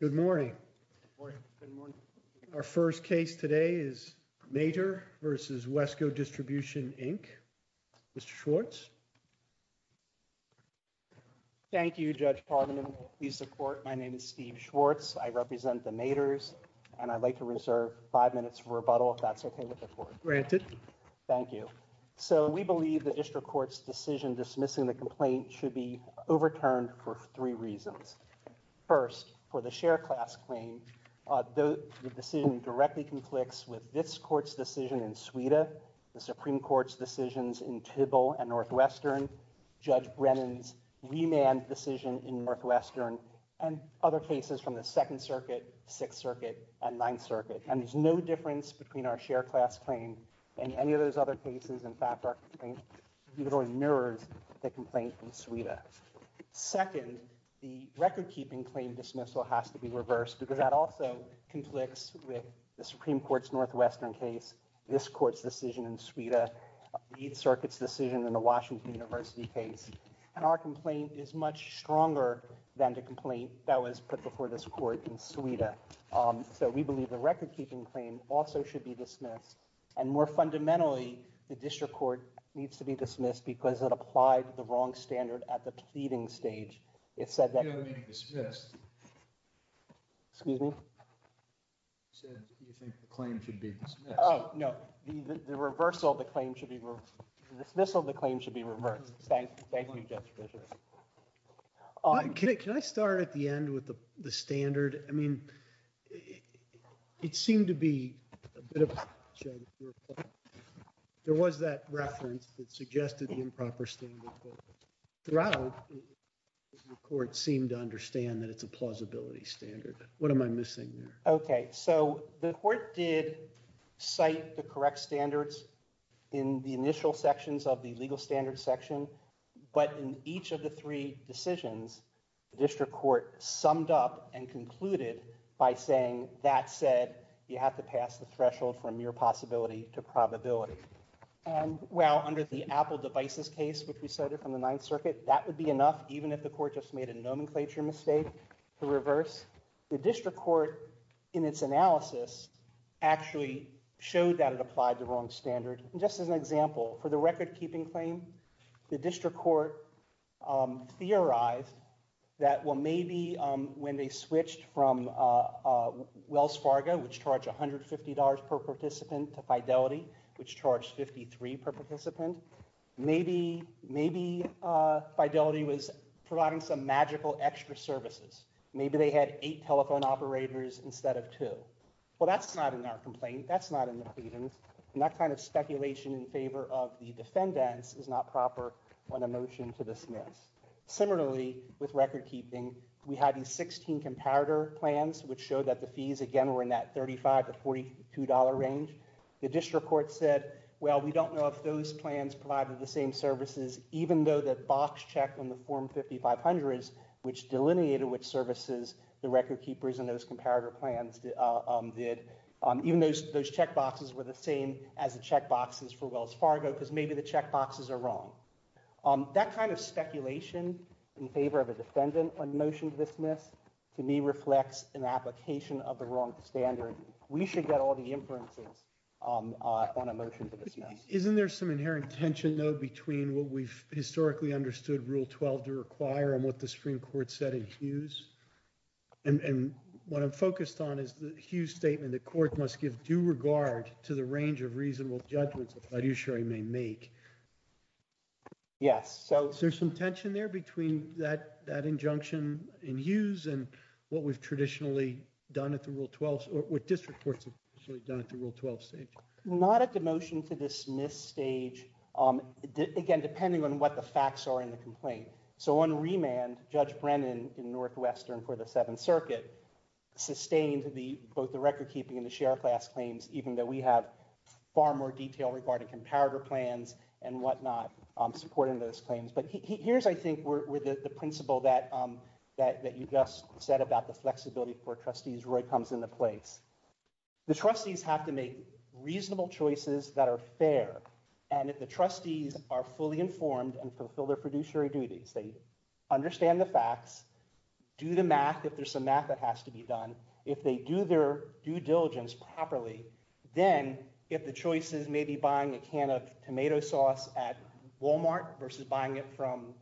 Good morning. Our first case today is Mator v. Wesco Distribution, Inc. Mr. Schwartz. Thank you, Judge Pardman. Please support. My name is Steve Schwartz. I represent the Mators and I'd like to reserve five minutes for rebuttal if that's okay with the court. Thank you. So we believe the district court's decision dismissing the complaint should be a share class claim, though the decision directly conflicts with this court's decision in Sweden, the Supreme Court's decisions in Tybalt and Northwestern, Judge Brennan's remand decision in Northwestern, and other cases from the Second Circuit, Sixth Circuit, and Ninth Circuit. And there's no difference between our share class claim and any of those other cases. In fact, our complaint literally mirrored the complaint in Sweden. Second, the record-keeping claim dismissal has to be reversed because that also conflicts with the Supreme Court's Northwestern case, this court's decision in Sweden, the Eighth Circuit's decision, and the Washington University case. And our complaint is much stronger than the complaint that was put before this court in Sweden. So we believe the record-keeping claim also should be dismissed. And more fundamentally, the district court needs to be dismissed because it applied the wrong standard at the pleading stage. It said that... Excuse me? You said you think the claim should be dismissed. Oh, no. The reversal of the claim should be... The dismissal of the claim should be reversed. Thank you, Judge Fischer. Can I start at the end with the standard? I mean, it seemed to be a bit of... There was that reference that suggested the improper standard. Throughout, the court seemed to understand that it's a plausibility standard. What am I missing there? Okay. So the court did cite the correct standards in the initial sections of the legal standards section. But in each of the three decisions, the district court summed up and concluded by saying, that said, you have to pass the threshold from mere possibility to probability. Well, under the Apple devices case, which we cited from the Ninth Circuit, that would be enough, even if the court just made a nomenclature mistake, to reverse. The district court, in its analysis, actually showed that it applied the wrong standard. Just as an example, for the record-keeping claim, the district court theorized that, well, maybe when they switched from Wells Fargo, which charged $150 per participant, to Fidelity, which charged $53 per participant, maybe Fidelity was providing some magical extra services. Maybe they had eight telephone operators instead of two. Well, that's not in our complaint. That's not in the proceedings. And that kind of speculation in favor of the defendants is not proper on a motion to dismiss. Similarly, with record-keeping, we had these 16 comparator plans, which showed that the fees, again, were in that $35 to $42 range. The district court said, well, we don't know if those plans provided the same services, even though the box check in the Form 5500, which delineated which services the record-keepers in those comparator plans did, even though those check boxes were the same as the check boxes for Wells Fargo, because maybe the check boxes are wrong. That kind of speculation in favor of a defendant on a motion to dismiss, to me, reflects an application of the wrong standard. We should get all the inferences on a motion to dismiss. Isn't there some inherent tension, though, between what we've historically understood Rule 12 to require and what the Supreme Court said in Hughes? And what I'm focused on is the Hughes statement that court must give due regard to the range of services. Is there some tension there between that injunction in Hughes and what we've traditionally done at the Rule 12, or what district courts have done at the Rule 12 stage? Not at the motion to dismiss stage. Again, depending on what the facts are in the complaint. So on remand, Judge Brennan in Northwestern for the Seventh Circuit sustained both the record-keeping and the share class claims, even though we have far more detail regarding empowerment plans and whatnot supporting those claims. But here's, I think, where the principle that you just said about the flexibility for trustees really comes into place. The trustees have to make reasonable choices that are fair. And if the trustees are fully informed and fulfill their fiduciary duties, they understand the facts, do the math, if there's some math that has to be tomato sauce at Walmart versus buying it from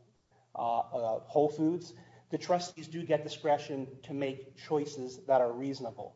Whole Foods, the trustees do get discretion to make choices that are reasonable.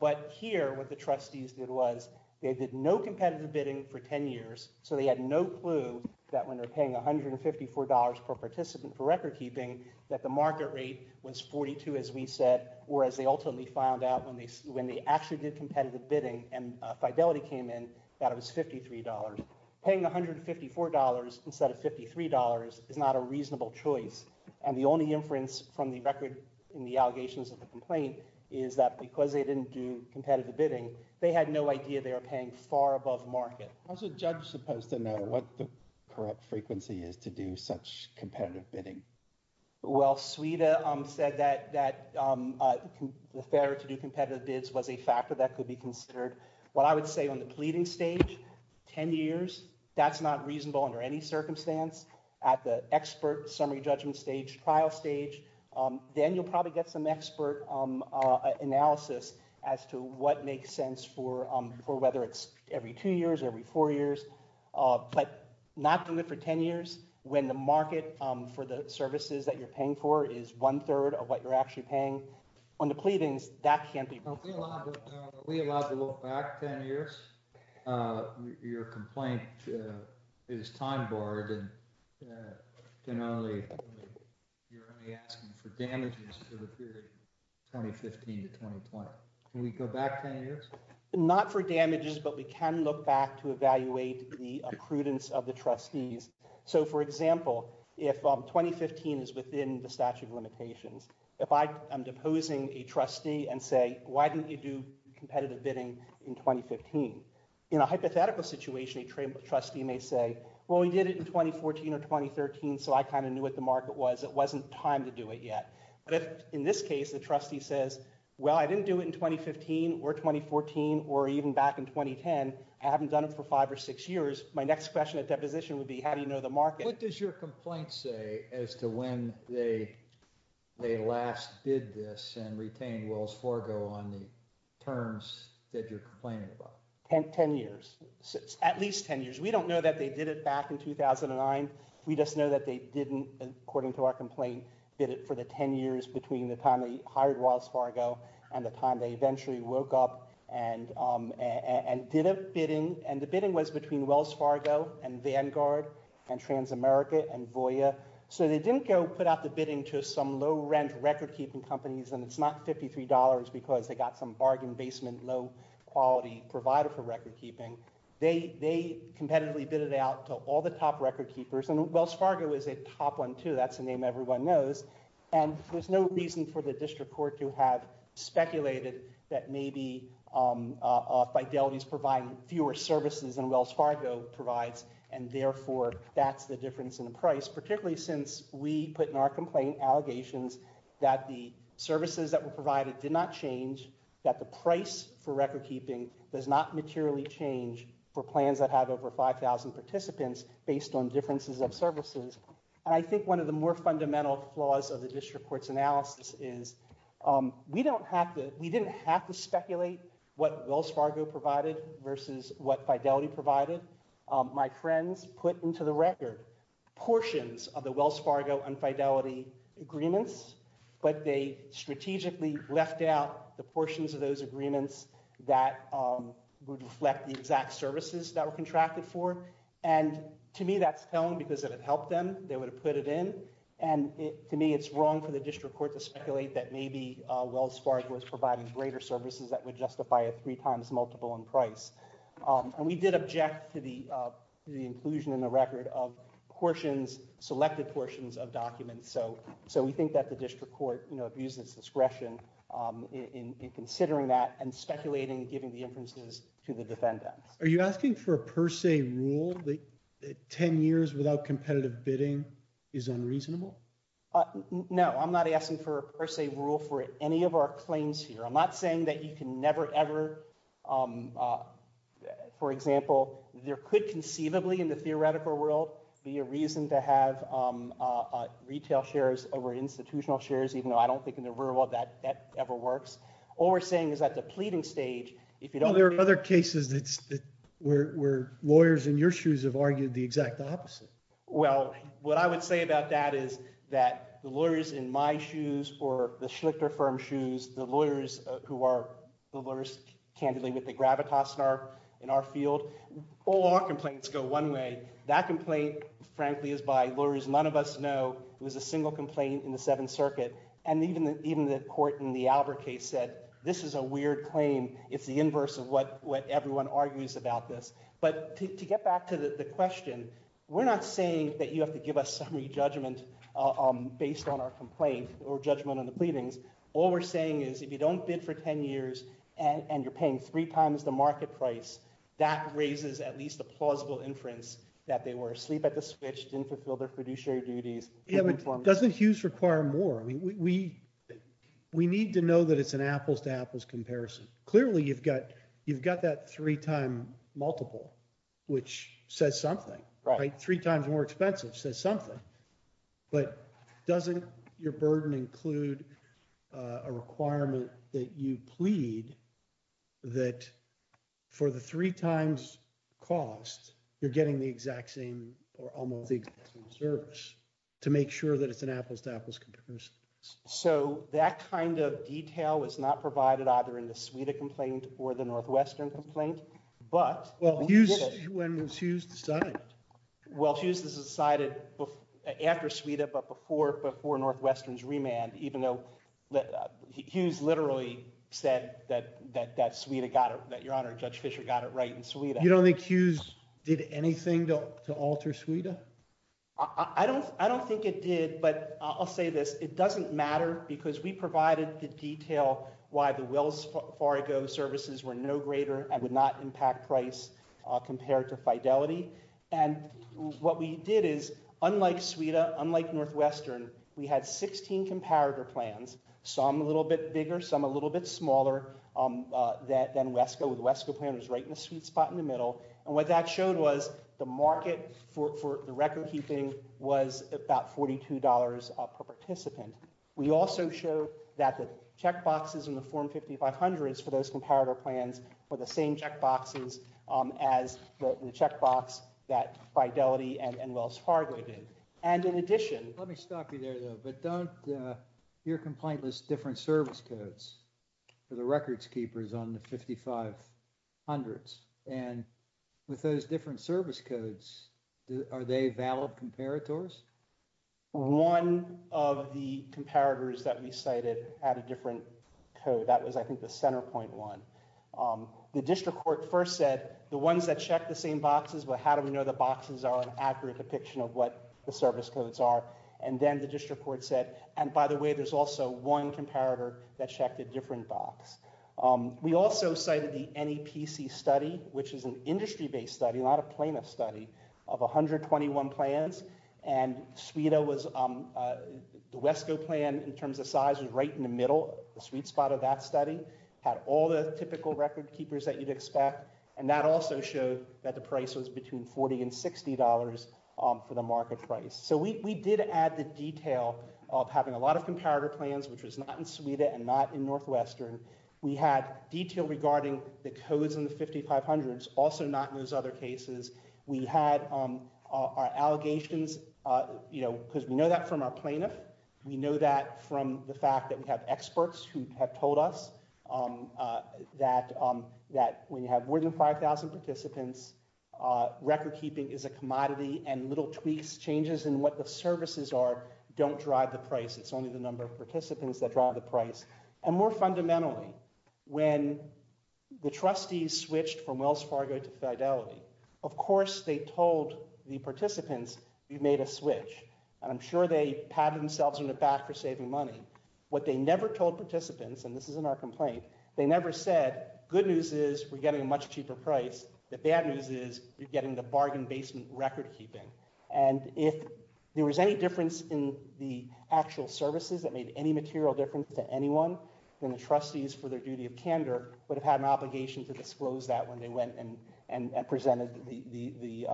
But here, what the trustees did was they did no competitive bidding for 10 years, so they had no clue that when they're paying $154 per participant for record-keeping, that the market rate was 42, as we said, or as they ultimately found out when they actually did competitive bidding and fidelity came in, that it was $53. Paying $154 instead of $53 is not a reasonable choice. And the only inference from the record in the allegations of the complaint is that because they didn't do competitive bidding, they had no idea they were paying far above market. How's a judge supposed to know what the correct frequency is to do such competitive bids was a factor that could be considered. What I would say on the pleading stage, 10 years, that's not reasonable under any circumstance. At the expert summary judgment stage, trial stage, then you'll probably get some expert analysis as to what makes sense for whether it's every two years, every four years. But not doing it for 10 years when the market for the services that you're paying for is one-third of what you're actually paying. On the pleadings, that can't be. We allowed to look back 10 years. Your complaint is time-borrowed and generally you're only asking for damages for the period 2015 to 2021. Can we go back 10 years? Not for damages, but we can look back to evaluate the accredence of the trustees. So for example, if 2015 is within the statute of limitations, if I am deposing a trustee and say, why didn't you do competitive bidding in 2015? In a hypothetical situation, a trustee may say, well, we did it in 2014 or 2013, so I kind of knew what the market was. It wasn't time to do it yet. But in this case, the trustee says, well, I didn't do it in 2015 or 2014 or even back in 2010. I haven't done it for five or six years. My next question at deposition would be, how do you know the market? What does your complaint say as to when they last did this and retained Wells Fargo on the terms that you're complaining about? 10 years. At least 10 years. We don't know that they did it back in 2009. We just know that they didn't, according to our complaint, bid it for the 10 years between the time they hired Wells Fargo and the time they eventually woke up and did a bidding. And the bidding was between Wells Fargo and Vanguard and Transamerica and Voya. So they didn't go put out the bidding to some low-rent record-keeping companies, and it's not $53 because they got some bargain-basement low-quality provider for record-keeping. They competitively bidded out to all the top record-keepers. And Wells Fargo is a top one, too. That's a name everyone knows. And there's no reason for the district court to have speculated that maybe Fidelity is providing fewer services than Wells Fargo provides, and therefore that's the difference in price, particularly since we put in our complaint allegations that the services that were provided did not change, that the price for record-keeping does not materially change for plans that have over 5,000 participants based on differences of services. I think one of the more fundamental flaws of the district court's analysis is we don't have to, we didn't have to speculate what Wells Fargo provided versus what Fidelity provided. My friends put into the record portions of the Wells Fargo and Fidelity agreements, but they strategically left out the portions of those agreements that would reflect the exact services that were contracted for. And to me, that's dumb because it would have helped them. They would have put it in. And to me, it's wrong for the district court to speculate that maybe Wells Fargo is providing greater services that would justify a three times multiple in price. And we did object to the inclusion in the record of portions, selected portions of documents. So we think that the district court, you know, abuses discretion in considering that and speculating, giving the inferences to the defendant. Are you asking for a per se rule that 10 years without competitive bidding is unreasonable? No, I'm not asking for a per se rule for any of our claims here. I'm not saying that you can never ever, for example, there could conceivably in the theoretical world be a reason to have retail shares over institutional shares, even though I don't think in the real world that that ever works. All we're saying is that the pleading stage, if you don't- Well, there are other cases that where lawyers in your shoes have argued the exact opposite. Well, what I would say about that is that the lawyers in my shoes or the Schlifter firm shoes, the lawyers who are the lawyers candidly with the gravitas in our field, all our complaints go one way. That complaint, frankly, is by lawyers none of us know. It was a single complaint in the Seventh Circuit. And even the court in the Albert case said, this is a weird claim. It's the inverse of what everyone argues about this. But to get back to the question, we're not saying that you have to give us summary judgment based on our complaint or judgment on the pleadings. All we're saying is, if you don't bid for 10 years and you're paying three times the market price, that raises at least a plausible inference that they were asleep at the switch, didn't fulfill their fiduciary duties. Yeah, but doesn't Hughes require more? We need to know that it's an apples to apples comparison. Clearly, you've got that three-time multiple, which says something. Three times more expensive says something. But doesn't your burden include a requirement that you plead that for the three times costs, you're getting the exact same or almost the exact same service to make sure that it's an apples to apples comparison? So that kind of detail is not provided either in the Sweda complaint or the Northwestern complaint, but- Well, Hughes, when Hughes decided- Well, Hughes decided after Sweda, but before Northwestern's remand, even though Hughes literally said that Sweda got it, that Your Honor, Judge Fischer got it right in Sweda. You don't think Hughes did anything to alter Sweda? I don't think it did, but I'll say this. It doesn't matter because we provided the detail why the Wells Fargo services were no greater and did not impact price compared to Fidelity. And what we did is, unlike Sweda, unlike Northwestern, we had 16 comparator plans, some a little bit bigger, some a little bit smaller than WESCO. The WESCO plan was right in the sweet spot in the middle. And what that showed was the market for the record-keeping was about $42 per participant. We also show that the checkboxes in the Form 5500s for those 16 checkboxes as the checkbox that Fidelity and Wells Fargo did. And in addition- Let me stop you there, though, but don't- your complaint lists different service codes for the records keepers on the 5500s. And with those different service codes, are they valid comparators? One of the comparators that we cited had a different code. That was, I think, the Centerpoint one. The district court first said, the ones that check the same boxes, well, how do we know the boxes are an accurate depiction of what the service codes are? And then the district court said, and by the way, there's also one comparator that checked a different box. We also cited the NEPC study, which is an industry-based study, not a plaintiff study, of 121 plans. And Sweda was- the WESCO plan, in terms of size, was right in the middle, the sweet spot of that study. Had all the typical record keepers that you'd expect, and that also showed that the price was between $40 and $60 for the market price. So we did add the detail of having a lot of comparator plans, which was not in Sweda and not in Northwestern. We had detail regarding the codes in the 5500s, also not in those other cases. We had our allegations, you know, because we know that from our plaintiff. We know that from the fact that we have experts who have told us that when you have more than 5000 participants, record keeping is a commodity, and little tweaks, changes in what the services are, don't drive the price. It's only the number of participants that drive the price. And more fundamentally, when the trustees switched from Wells Fargo to Fidelity, of course they told the participants, you made a switch. I'm sure they never said good news is we're getting a much cheaper price. The bad news is you're getting the bargain basement record keeping. And if there was any difference in the actual services that made any material difference to anyone, then the trustees for their duty of candor would have had an obligation to disclose that when they went and presented the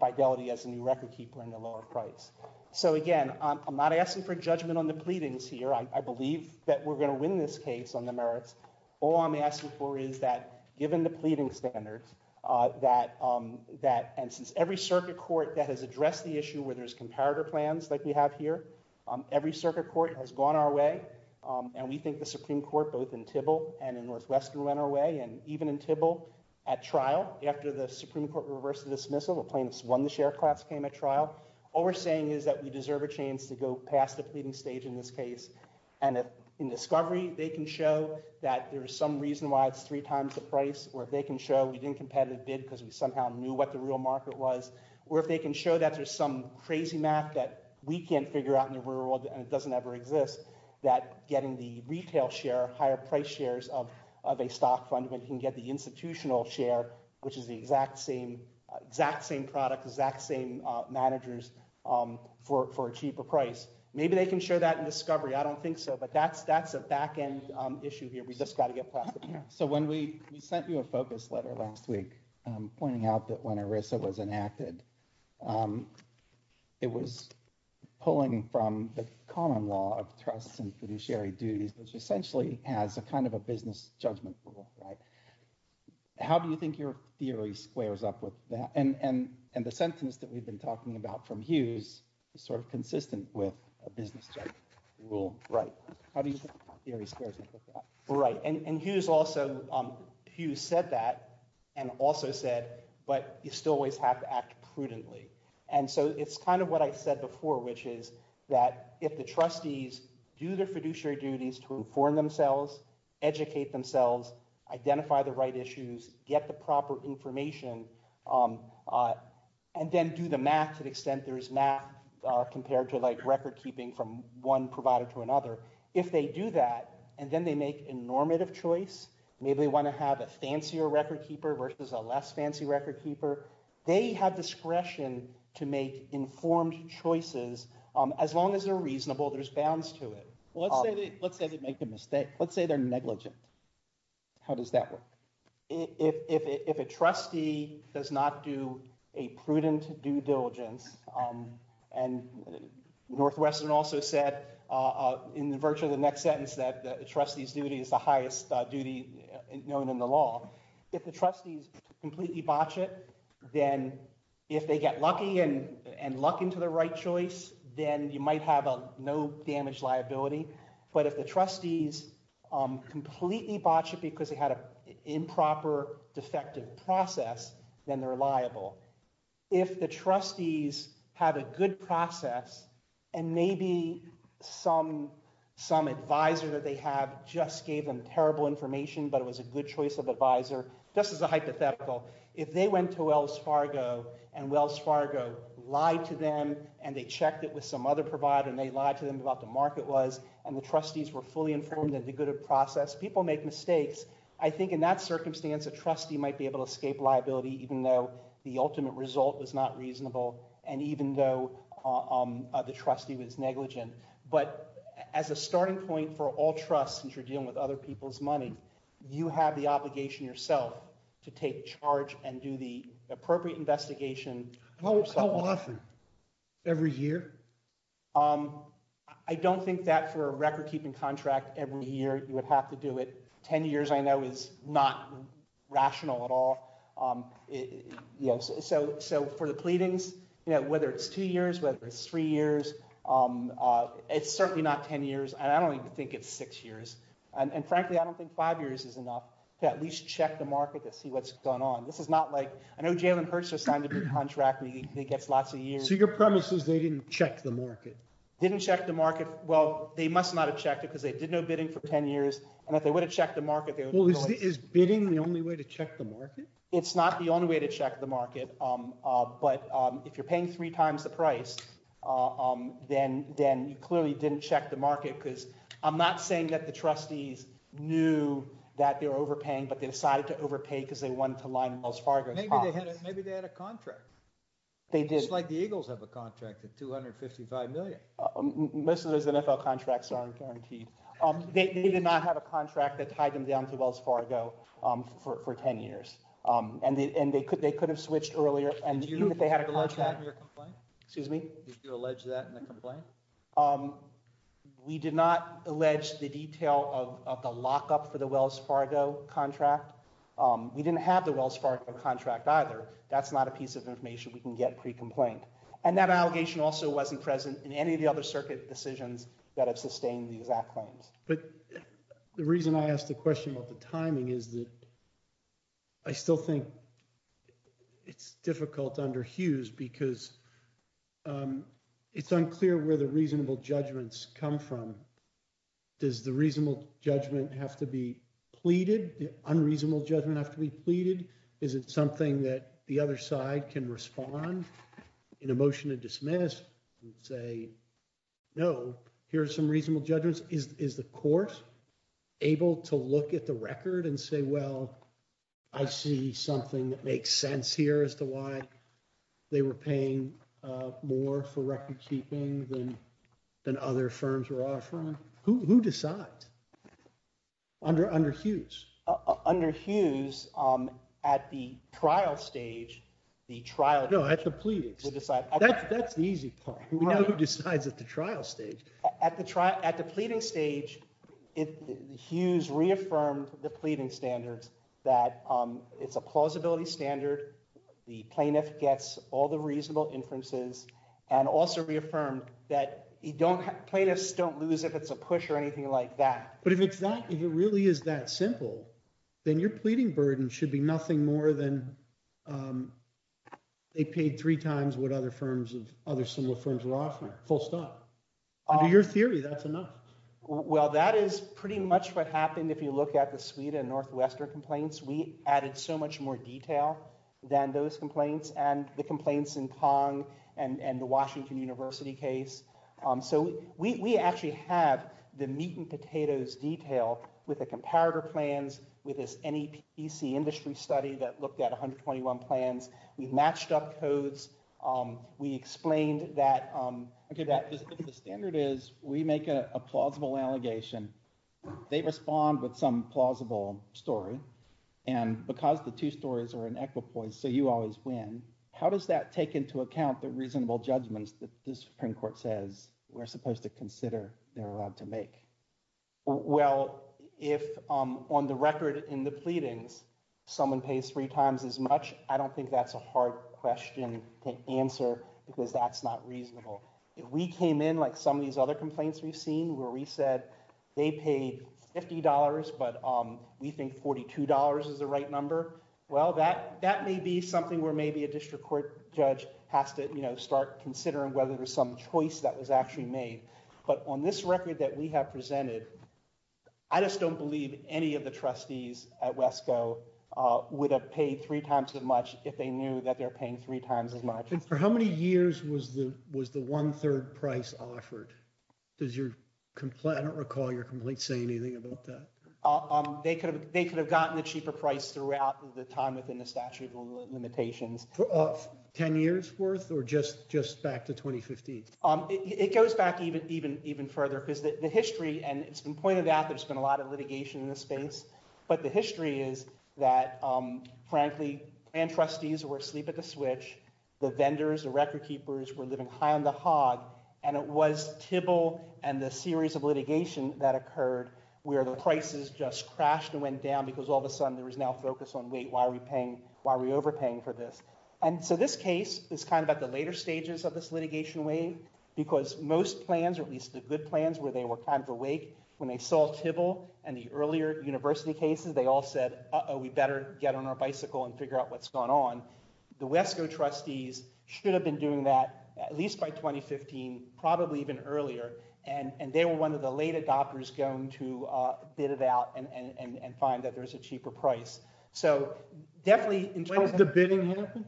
Fidelity as a new record keeper in the lower price. So again, I'm not asking for judgment on the pleadings here. I believe that we're going to win this case on the merits. All I'm asking for is that given the pleading standards that, and since every circuit court that has addressed the issue where there's comparator plans like we have here, every circuit court has gone our way. And we think the Supreme Court, both in Thibault and in Northwestern, went our way. And even in Thibault, at trial, after the Supreme Court reversed the dismissal, the plaintiffs won the share class, came at trial. All we're saying is that we deserve a chance to go past the pleading stage in this case and in discovery, they can show that there's some reason why it's three times the price, or if they can show we didn't competitive bid because we somehow knew what the real market was, or if they can show that there's some crazy math that we can't figure out in the world and doesn't ever exist, that getting the retail share, higher price shares of a stock fund, we can get the institutional share, which is the exact same product, exact same managers for a cheaper price. Maybe they can show that in discovery. I don't think so. But that's a back-end issue here. We just got to get past it. So when we sent you a focus letter last week pointing out that when ERISA was enacted, it was pulling from the common law of trust and fiduciary duties, which essentially has a kind of a business judgment rule. How do you think your theory squares up with that? And the sentence that we've been talking about from Hughes is sort of consistent with a business judgment rule. How do you think my theory squares up with that? Right. And Hughes said that and also said, but you still always have to act prudently. And so it's kind of what I said before, which is that if the trustees do their fiduciary duties to inform themselves, educate themselves, identify the right issues, get the proper information, and then do the math to the extent there is math compared to record keeping from one provider to another, if they do that and then they make a normative choice, maybe they want to have a fancier record keeper versus a less fancy record keeper, they have discretion to make informed choices. As long as they're reasonable, there's bounds to it. Let's say they make a mistake. Let's say they're negligent. How does that work? If a trustee does not do a prudent due diligence, and Northwestern also said in virtue of the next sentence that the trustee's duty is the highest duty known in the law, if the trustees completely botch it, then if they get lucky and luck into the right choice, then you might have a no damage liability. But if the trustees completely botch it because they had an improper, deceptive process, then they're liable. If the trustees have a good process and maybe some advisor that they have just gave them terrible information, but it was a good choice of advisor, just as a hypothetical, if they went to Wells Fargo and Wells Fargo lied to them and they checked it with some other provider and they lied to them about the market wise and the trustees were fully informed that it was a good process, people make mistakes. I think in that circumstance, a trustee might be able to escape liability even though the ultimate result was not reasonable and even though the trustee was negligent. But as a starting point for all trusts, since you're dealing with other people's money, you have the obligation yourself to take charge and do the appropriate investigation. How often? Every year? I don't think that for a record keeping contract every year, you would have to do it. 10 years I know is not rational at all. So for the pleadings, whether it's two years, whether it's three years, it's certainly not 10 years. I don't even think it's six years. And frankly, I don't think five years is enough to at least check the market to see what's going on. This is not like, I know Jalen Hurst has signed a good contract and he gets lots of years. So your premise is they didn't check the market? Didn't check the market. Well, they must not have checked it because they did no bidding for 10 years. And if they would have checked the market, they would have... Is bidding the only way to check the market? It's not the only way to check the market. But if you're paying three times the price, then you clearly didn't check the market. Because I'm not saying that the trustees knew that they were overpaying, but they decided to overpay because they wanted to line Wells Fargo. Maybe they had a contract. They did. Just like the Eagles have a contract at $255 million. Most of those NFL contracts are unguaranteed. They did not have a contract that tied them down to Wells Fargo for 10 years. And they could have switched earlier and if they had a contract... Did you do a letter of complaint? Excuse me? Did you allege that in the complaint? We did not allege the detail of a lockup for the Wells Fargo contract. We didn't have the Wells Fargo contract either. That's not a piece of information we can get pre-complaint. And that allegation also wasn't present in any of the other circuit decisions that have sustained these lack claims. But the reason I asked the question about the timing is that I still think it's difficult under Hughes because it's unclear where the reasonable judgments come from. Does the reasonable judgment have to be pleaded? The unreasonable judgment have to be pleaded? Is it something that the other side can respond in a motion to dismiss and say, no, here's some reasonable judgments? Is the court able to look at the record and say, well, I see something that makes sense here as to why they were paying more for record keeping than other firms were offering? Who decides? Under Hughes? Under Hughes, at the trial stage, the trial... No, at the pleading. That's the easy part. Who decides at the trial stage? At the pleading stage, Hughes reaffirmed the pleading standard that it's a plausibility standard. The plaintiff gets all the reasonable inferences and also reaffirmed that plaintiffs don't lose if it's a push or anything like that. But if it's not, if it really is that simple, then your pleading burden should be nothing more than they paid three times what other firms, other similar firms were offering. Full stop. Your theory, that's enough. Well, that is pretty much what happened if you look at the Sweden Northwester complaints. We added so much more detail than those complaints and the complaints in Kong and the Washington University case. So we actually have the meat and potatoes detail with the comparator plans, with this NEPC industry study that looked at 121 plans. We matched up codes. We explained that the standard is we make a plausible allegation. They respond with some plausible story. And because the two stories are in equipoint, so you always win. How does that take into account the reasonable judgment that the Supreme Court says we're supposed to consider their right to make? Well, if on the record in the pleadings, someone pays three times as much, I don't think that's a hard question to answer because that's not reasonable. If we came in like some of these other complaints we've seen where we said they paid $50, but we think $42 is the right number. Well, that may be something where maybe a district court judge has to start considering whether there's some choice that was actually made. But on this record that we have presented, I just don't believe any of the trustees at WESCO would have paid three times as much if they knew that they're paying three times as much. And for how many years was the one-third price offered? I don't recall your complaint saying anything about that. They could have gotten a cheaper price throughout the time within the statute of limitations. Ten years worth or just back to 2015? It goes back even further because the history, and it's been pointed out, there's been a lot of litigation in this space. But the history is that, frankly, plan trustees were asleep at the switch. The vendors, the record keepers were living high on the hog. And it was TIBL and the series of litigation that occurred where the prices just crashed and went down because all of a sudden there was now focus on, wait, why are we overpaying for this? And so this case is kind of at the later stages of this litigation wave because most plans, the good plans where they were kind of awake, when they saw TIBL and the earlier university cases, they all said, uh-oh, we better get on our bicycle and figure out what's going on. The WESCO trustees should have been doing that at least by 2015, probably even earlier. And they were one of the latest authors going to bid it out and find that there's a cheaper price. So definitely- When did the bidding happen?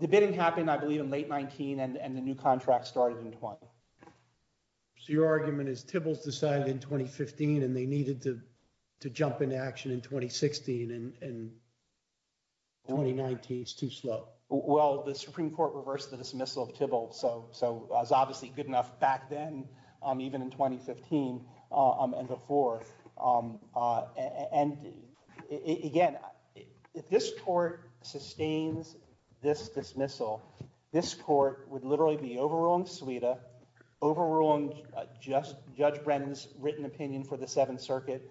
The bidding happened, I believe, in late 19 and the new contract started in 20. So your argument is TIBL's decided in 2015 and they needed to jump into action in 2016 and 2019 is too slow. Well, the Supreme Court reversed the dismissal of TIBL. So it's obviously good enough back then, even in 2015 and before. And again, if this court sustains this dismissal, this court would literally be overruling SAWITA, overruling Judge Brennan's written opinion for the Seventh Circuit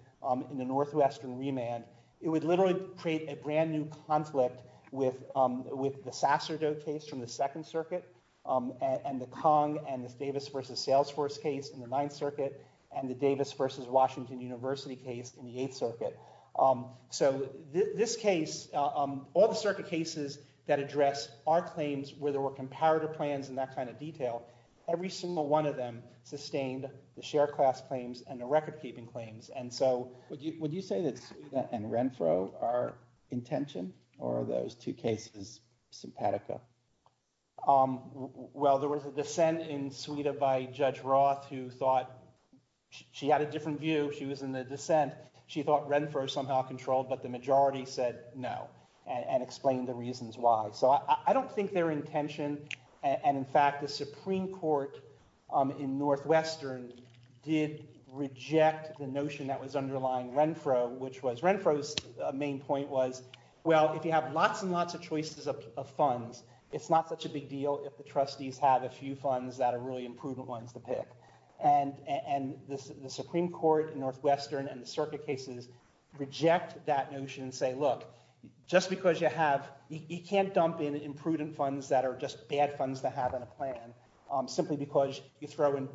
in the Northwestern remand. It would literally create a brand new conflict with the Sasserdoe case from the Second Circuit and the Kong and the Davis versus Salesforce case in the Ninth Circuit and the Davis versus Washington University case in the Eighth Circuit. So this case, all the circuit cases that address our claims where there were comparative plans and that kind of detail, every single one of them sustained the share class claims and the record keeping claims. And so- Would you say that SAWITA and Renfro are in tension or are those two cases simpatico? Well, there was a dissent in SAWITA by Judge Roth who thought she had a different view. She was in dissent. She thought Renfro somehow controlled, but the majority said no and explained the reasons why. So I don't think they're in tension. And in fact, the Supreme Court in Northwestern did reject the notion that was underlying Renfro, which was Renfro's main point was, well, if you have lots and lots of choices of funds, it's not such a big deal if the trustees have a few funds that are really imprudent ones to pick. And the Supreme Court in Northwestern and the circuit cases reject that notion and say, look, just because you have- you can't dump in imprudent funds that are just bad funds to have on a plan simply because you throw in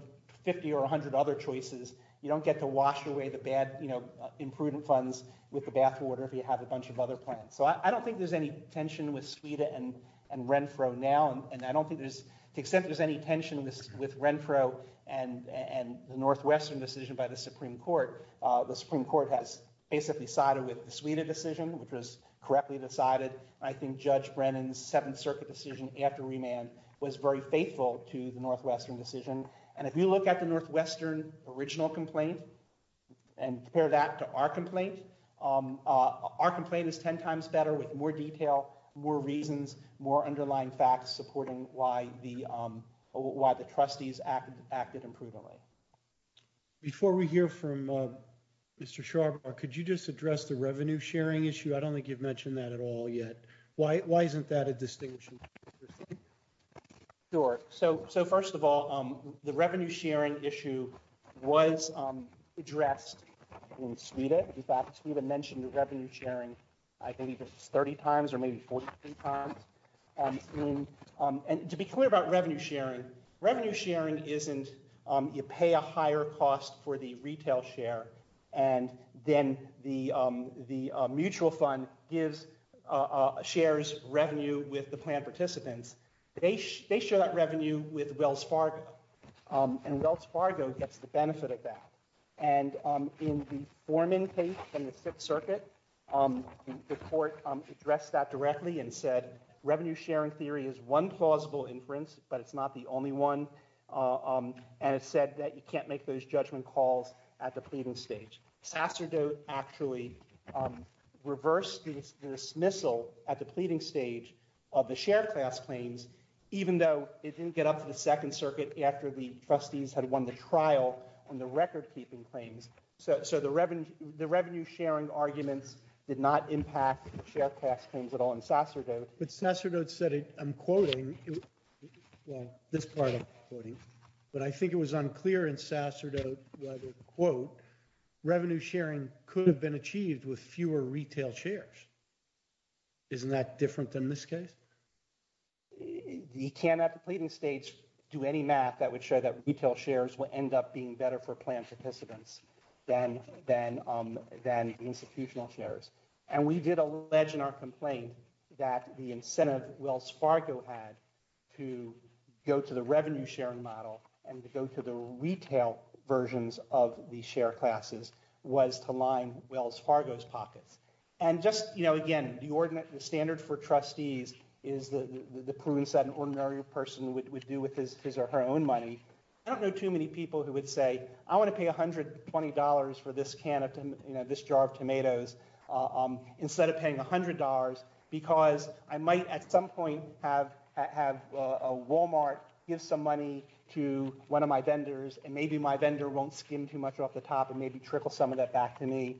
50 or 100 other choices. You don't get to wash away the bad, you know, imprudent funds with the bathwater if you have a bunch of other plans. So I don't think there's any tension with SAWITA and Renfro now. And I don't think there's- to the extent there's any tension with Renfro and the Northwestern decision by the Supreme Court, the Supreme Court has basically sided with the SAWITA decision, which was correctly decided. I think Judge Brennan's Seventh Circuit decision after remand was very faithful to the Northwestern decision. And if you look at the Northwestern original complaint and compare that to our complaint, our complaint is 10 times better with more detail, more reasons, more underlying facts supporting why the trustees acted imprudently. Before we hear from Mr. Sharma, could you just address the revenue sharing issue? I don't think you've mentioned that at all yet. Why isn't that a distinction? Sure. So first of all, the revenue sharing issue was addressed in SAWITA. In fact, Stephen mentioned the revenue sharing, I believe, 30 times or maybe 40 times. And to be clear about revenue sharing, revenue sharing isn't you pay a higher cost for the retail share, and then the mutual fund gives- shares revenue with the plan participants. They share that revenue with Wells Fargo, and Wells Fargo gets the benefit of that. And in the Foreman case in the Fifth Circuit, the court addressed that directly and said revenue sharing theory is one plausible inference, but it's not the only one. And it said that you can't make those judgment calls at the pleading stage. Pasadena actually reversed the dismissal at the pleading stage of the share class claims, even though they didn't get up to the Second Circuit after the trustees had won the trial on the record-keeping claims. So the revenue- the revenue sharing arguments did not impact share class claims at all in Sasserdote. But Sasserdote said, I'm quoting- well, this part I'm quoting, but I think it was unclear in Sasserdote that, quote, revenue sharing could have been achieved with fewer retail shares. Isn't that different than this case? You can't, at the pleading stage, do any math that would show that retail shares will end up being better for plan participants than institutional shares. And we did allege in our complaint that the incentive Wells Fargo had to go to the revenue sharing model and to go to the retail versions of the share classes was to line Wells Fargo's pocket. And just, you know, again, the standard for trustees is the prudence that an ordinary person would do with his or her own money. I don't know too many people who would say, I want to pay $120 for this can of, you know, this jar of tomatoes, instead of paying $100, because I might at some point have a Walmart give some money to one of my vendors, and maybe my vendor won't skim too much off the top and maybe trickle some of that back to me.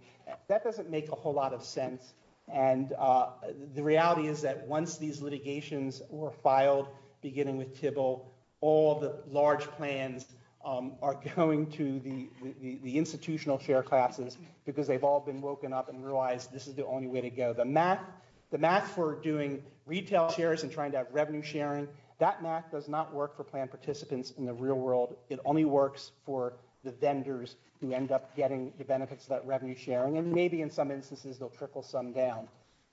That doesn't make a whole lot of sense. And the reality is that once these litigations were filed, beginning with Tybil, all the large plans are going to the institutional share classes because they've all been woken up and realized this is the only way to go. The MAC, the MAC for doing retail shares and trying to have revenue sharing, that MAC does not work for plan participants in the real world. It only works for the vendors who end up getting the benefits of that revenue sharing. And maybe in some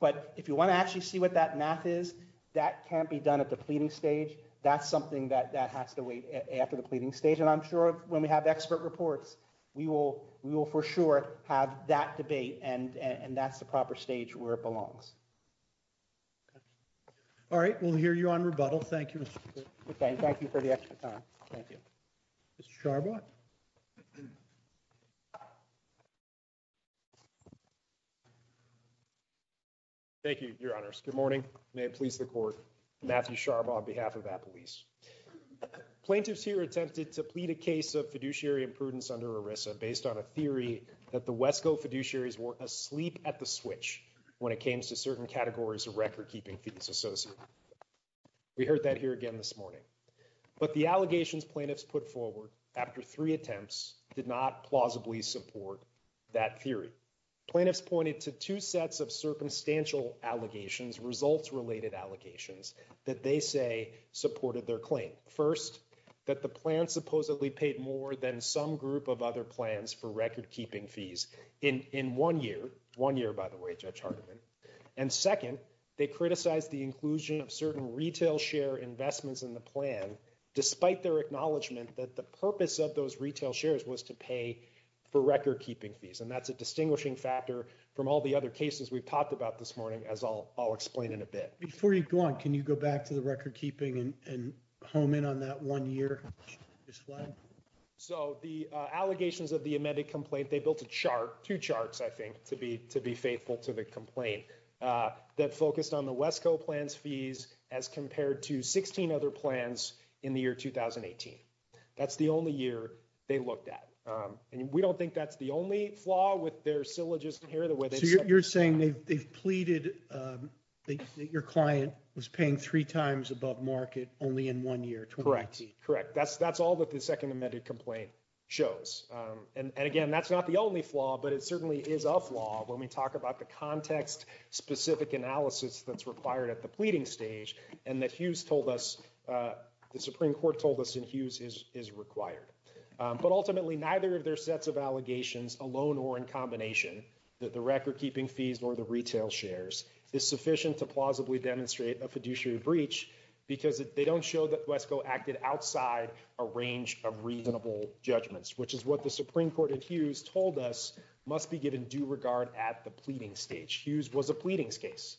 But if you want to actually see what that MAC is, that can't be done at the pleading stage. That's something that has to wait after the pleading stage. And I'm sure when we have expert reports, we will for sure have that debate and that's the proper stage where it belongs. All right. We'll hear you on rebuttal. Thank you. Thank you for the extra time. Thank you. Mr. Sharma? Thank you, your honors. Good morning. May it please the court. Matthew Sharma on behalf of Applebee's. Plaintiffs here attempted to plead a case of fiduciary imprudence under ERISA based on a theory that the Westco fiduciaries were asleep at the switch when it came to certain this morning. But the allegations plaintiffs put forward after three attempts did not plausibly support that theory. Plaintiffs pointed to two sets of circumstantial allegations, results related allegations that they say supported their claim. First, that the plan supposedly paid more than some group of other plans for record keeping fees in one year. One year, by the way, Judge Hardiman. And second, they criticized the inclusion of certain retail share investments in the plan, despite their acknowledgement that the purpose of those retail shares was to pay for record keeping fees. And that's a distinguishing factor from all the other cases we've talked about this morning, as I'll explain in a bit. Before you go on, can you go back to the record keeping and comment on that one year? So the allegations of the amended complaint, they built a chart, two charts, I think, to be faithful to the complaint that focused on the 16 other plans in the year 2018. That's the only year they looked at. And we don't think that's the only flaw with their syllogism here. So you're saying they pleaded that your client was paying three times above market only in one year? Correct. That's all that the second amended complaint shows. And again, that's not the only flaw, but it certainly is a flaw when we talk about the context-specific analysis that's required at the pleading stage, and that Hughes told us, the Supreme Court told us in Hughes is required. But ultimately, neither of their sets of allegations, alone or in combination, that the record keeping fees or the retail shares is sufficient to plausibly demonstrate a fiduciary breach, because they don't show that Wesco acted outside a range of reasonable judgments, which is what the Supreme Court at Hughes told us must be given due regard at the pleading stage. Hughes was a pleading case,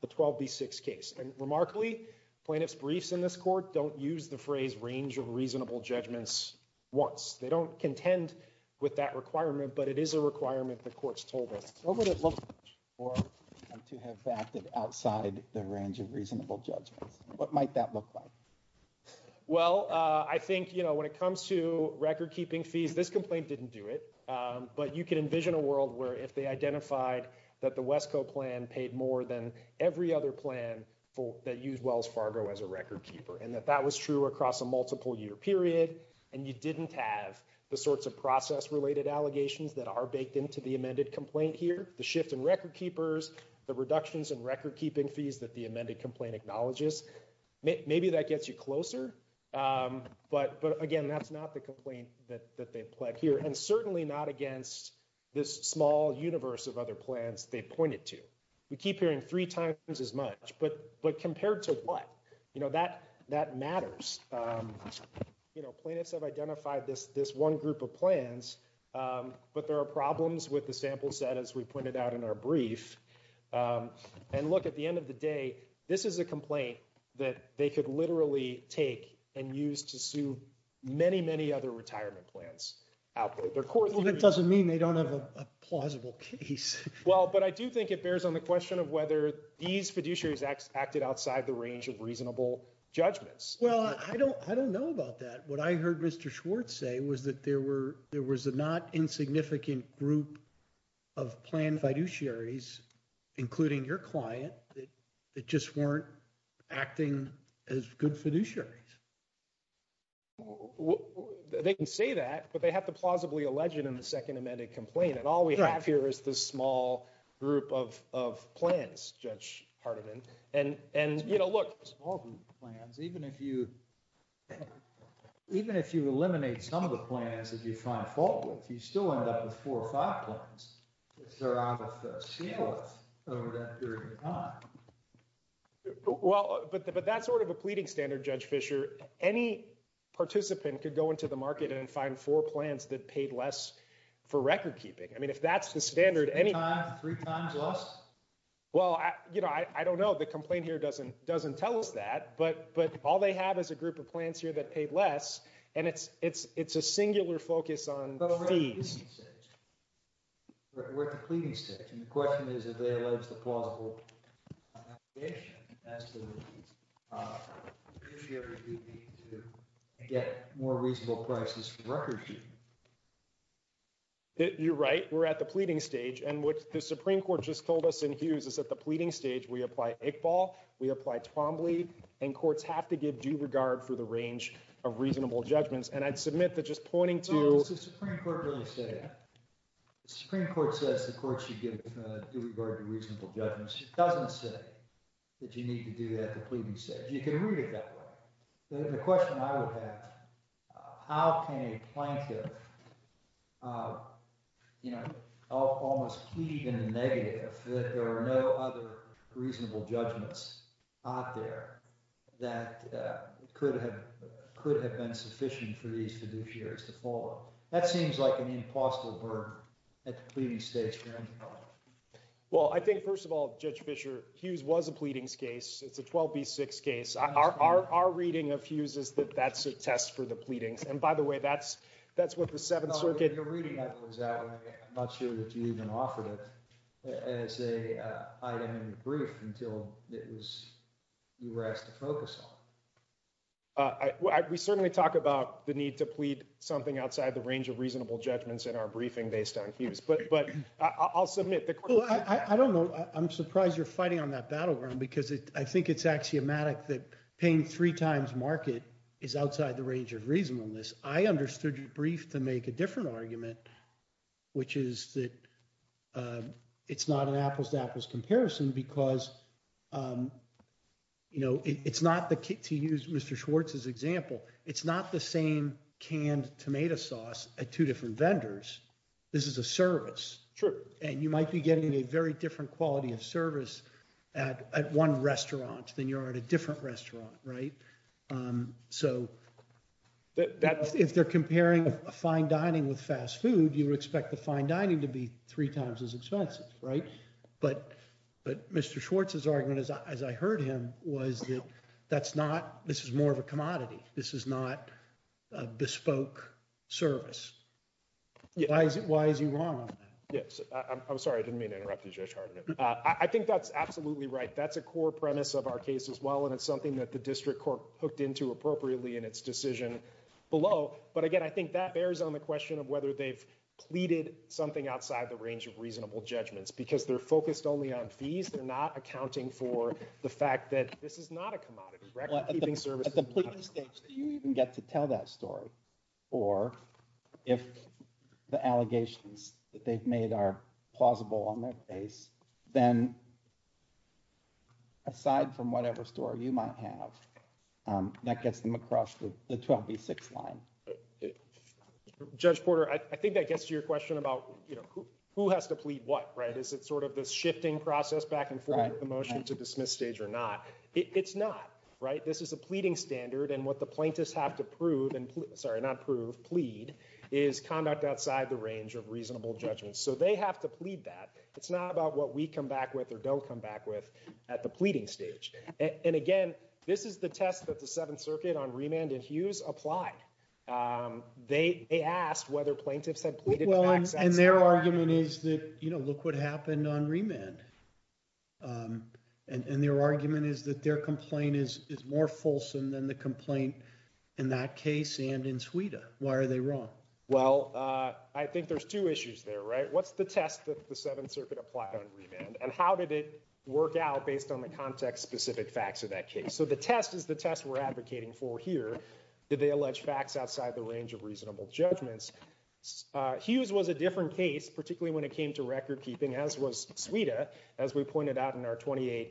the 12B6 case. And remarkably, plaintiff's briefs in this court don't use the phrase range of reasonable judgments once. They don't contend with that requirement, but it is a requirement the court's told us. What would it look like to have acted outside the range of reasonable judgments? What might that look like? Well, I think, you know, when it comes to record keeping fees, this complaint didn't do it. But you can envision a world where if they identified that the Wesco plan paid more than every other plan that used Wells Fargo as a record keeper, and that that was true across a multiple year period, and you didn't have the sorts of process-related allegations that are baked into the amended complaint here, the shift in record keepers, the reductions in record keeping fees that the amended complaint acknowledges, maybe that gets you closer. But again, that's not the here, and certainly not against this small universe of other plans they pointed to. We keep hearing three times as much, but compared to what? You know, that matters. You know, plaintiffs have identified this one group of plans, but there are problems with the sample set, as we pointed out in our brief. And look, at the end of the day, this is a complaint that they could literally take and use to sue many, many other retirement plans. That doesn't mean they don't have a plausible case. Well, but I do think it bears on the question of whether these fiduciaries acted outside the range of reasonable judgments. Well, I don't know about that. What I heard Mr. Schwartz say was that there was a not insignificant group of planned fiduciaries, including your client, that just weren't acting as good fiduciaries. They can say that, but they have to plausibly allege it in the second amended complaint. And all we have here is this small group of plans, Judge Hardiman. And, you know, look, even if you eliminate some of the plans that you find fault with, you still end up with four or five plans that are on the sales over that period of time. Well, but that's sort of a pleading standard, Judge Fischer. Any participant could go into the market and find four plans that paid less for recordkeeping. I mean, if that's the standard, any- Three times less? Well, you know, I don't know. The complaint here doesn't tell us that, but all they have is a group of plans here that paid less, and it's a singular focus on the fees. But we're at the pleading stage, and the question is, if they allege the plausible obligation as to fiduciary duty to get more reasonable prices for recordkeeping. You're right. We're at the pleading stage. And what the Supreme Court just told us in Hughes is at the pleading stage, we apply Iqbal, we apply Twombly, and courts have to give due regard for the range of reasonable judgments. And I'd submit that just pointing to- The Supreme Court doesn't say that. The Supreme Court says the courts should give due regard to reasonable judgments. It doesn't say that you need to do that at the pleading stage. You can read it that way. The question I would have, how can a plaintiff almost plead in the negative that there were no other reasonable judgments out there that could have been sufficient for these claims? That seems like an impossible burden at the pleading stage for any problem. Well, I think, first of all, Judge Fischer, Hughes was a pleadings case. It's a 12B6 case. Our reading of Hughes is that that's a test for the pleading. And by the way, that's what the Seventh Circuit- The reading of it was that, and I'm not sure that you even offered it as an item in the brief until it was, you were asked to focus on. I, we certainly talk about the need to plead something outside the range of reasonable judgments in our briefing based on Hughes, but I'll submit the- Well, I don't know. I'm surprised you're fighting on that battleground because I think it's axiomatic that paying three times market is outside the range of reasonableness. I understood your brief to make a different argument, which is that it's not an apples to apples comparison because it's not, to use Mr. Schwartz's example, it's not the same canned tomato sauce at two different vendors. This is a service. Sure. And you might be getting a very different quality of service at one restaurant than you're at a different restaurant, right? So if they're comparing a fine dining with fast food, you expect the fine dining to be three times as expensive, right? But Mr. Schwartz's argument, as I heard him, was that's not, this is more of a commodity. This is not a bespoke service. Why is he wrong on that? Yes. I'm sorry. I didn't mean to interrupt you, Judge Harmon. I think that's absolutely right. That's a core premise of our case as well, and it's something that the district court hooked into appropriately in its decision below. But again, I think that bears on the question of whether they've pleaded something outside the range of reasonable judgments, because they're focused only on fees. They're not accounting for the fact that this is not a commodity, correct? You think service is not a commodity. Do you even get to tell that story? Or if the allegations that they've made are plausible on their face, then aside from whatever story you might have, that gets them across the 12B6 line. Judge Porter, I think that gets to your question about who has to plead what, right? Is it sort of this shifting process back and forth with the motion to dismiss stage or not? It's not, right? This is a pleading standard, and what the plaintiffs have to prove, and sorry, not prove, plead, is conduct outside the range of reasonable judgments. So they have to plead that. It's not about what we come back with or don't come back with at the pleading stage. And again, this is a test that the Seventh Circuit on remand and Hughes applied. They asked whether plaintiffs had pleaded outside the range. And their argument is that, you know, look what happened on remand. And their argument is that their complaint is more fulsome than the complaint in that case and in Sweden. Why are they wrong? Well, I think there's two issues there, right? What's the test that the Seventh Circuit applied on remand, and how did it work out based on the context-specific facts of that case? So the test is the test we're advocating for here. Did they allege facts outside the range of reasonable judgments? Hughes was a different case, particularly when it came to record-keeping, as was Sweden, as we pointed out in our 28J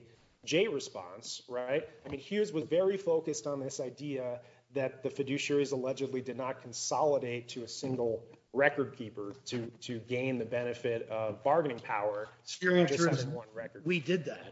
response, right? I mean, Hughes was very focused on this idea that the fiduciaries allegedly did not consolidate to a single record keeper to gain the benefit of bargaining power. We did that.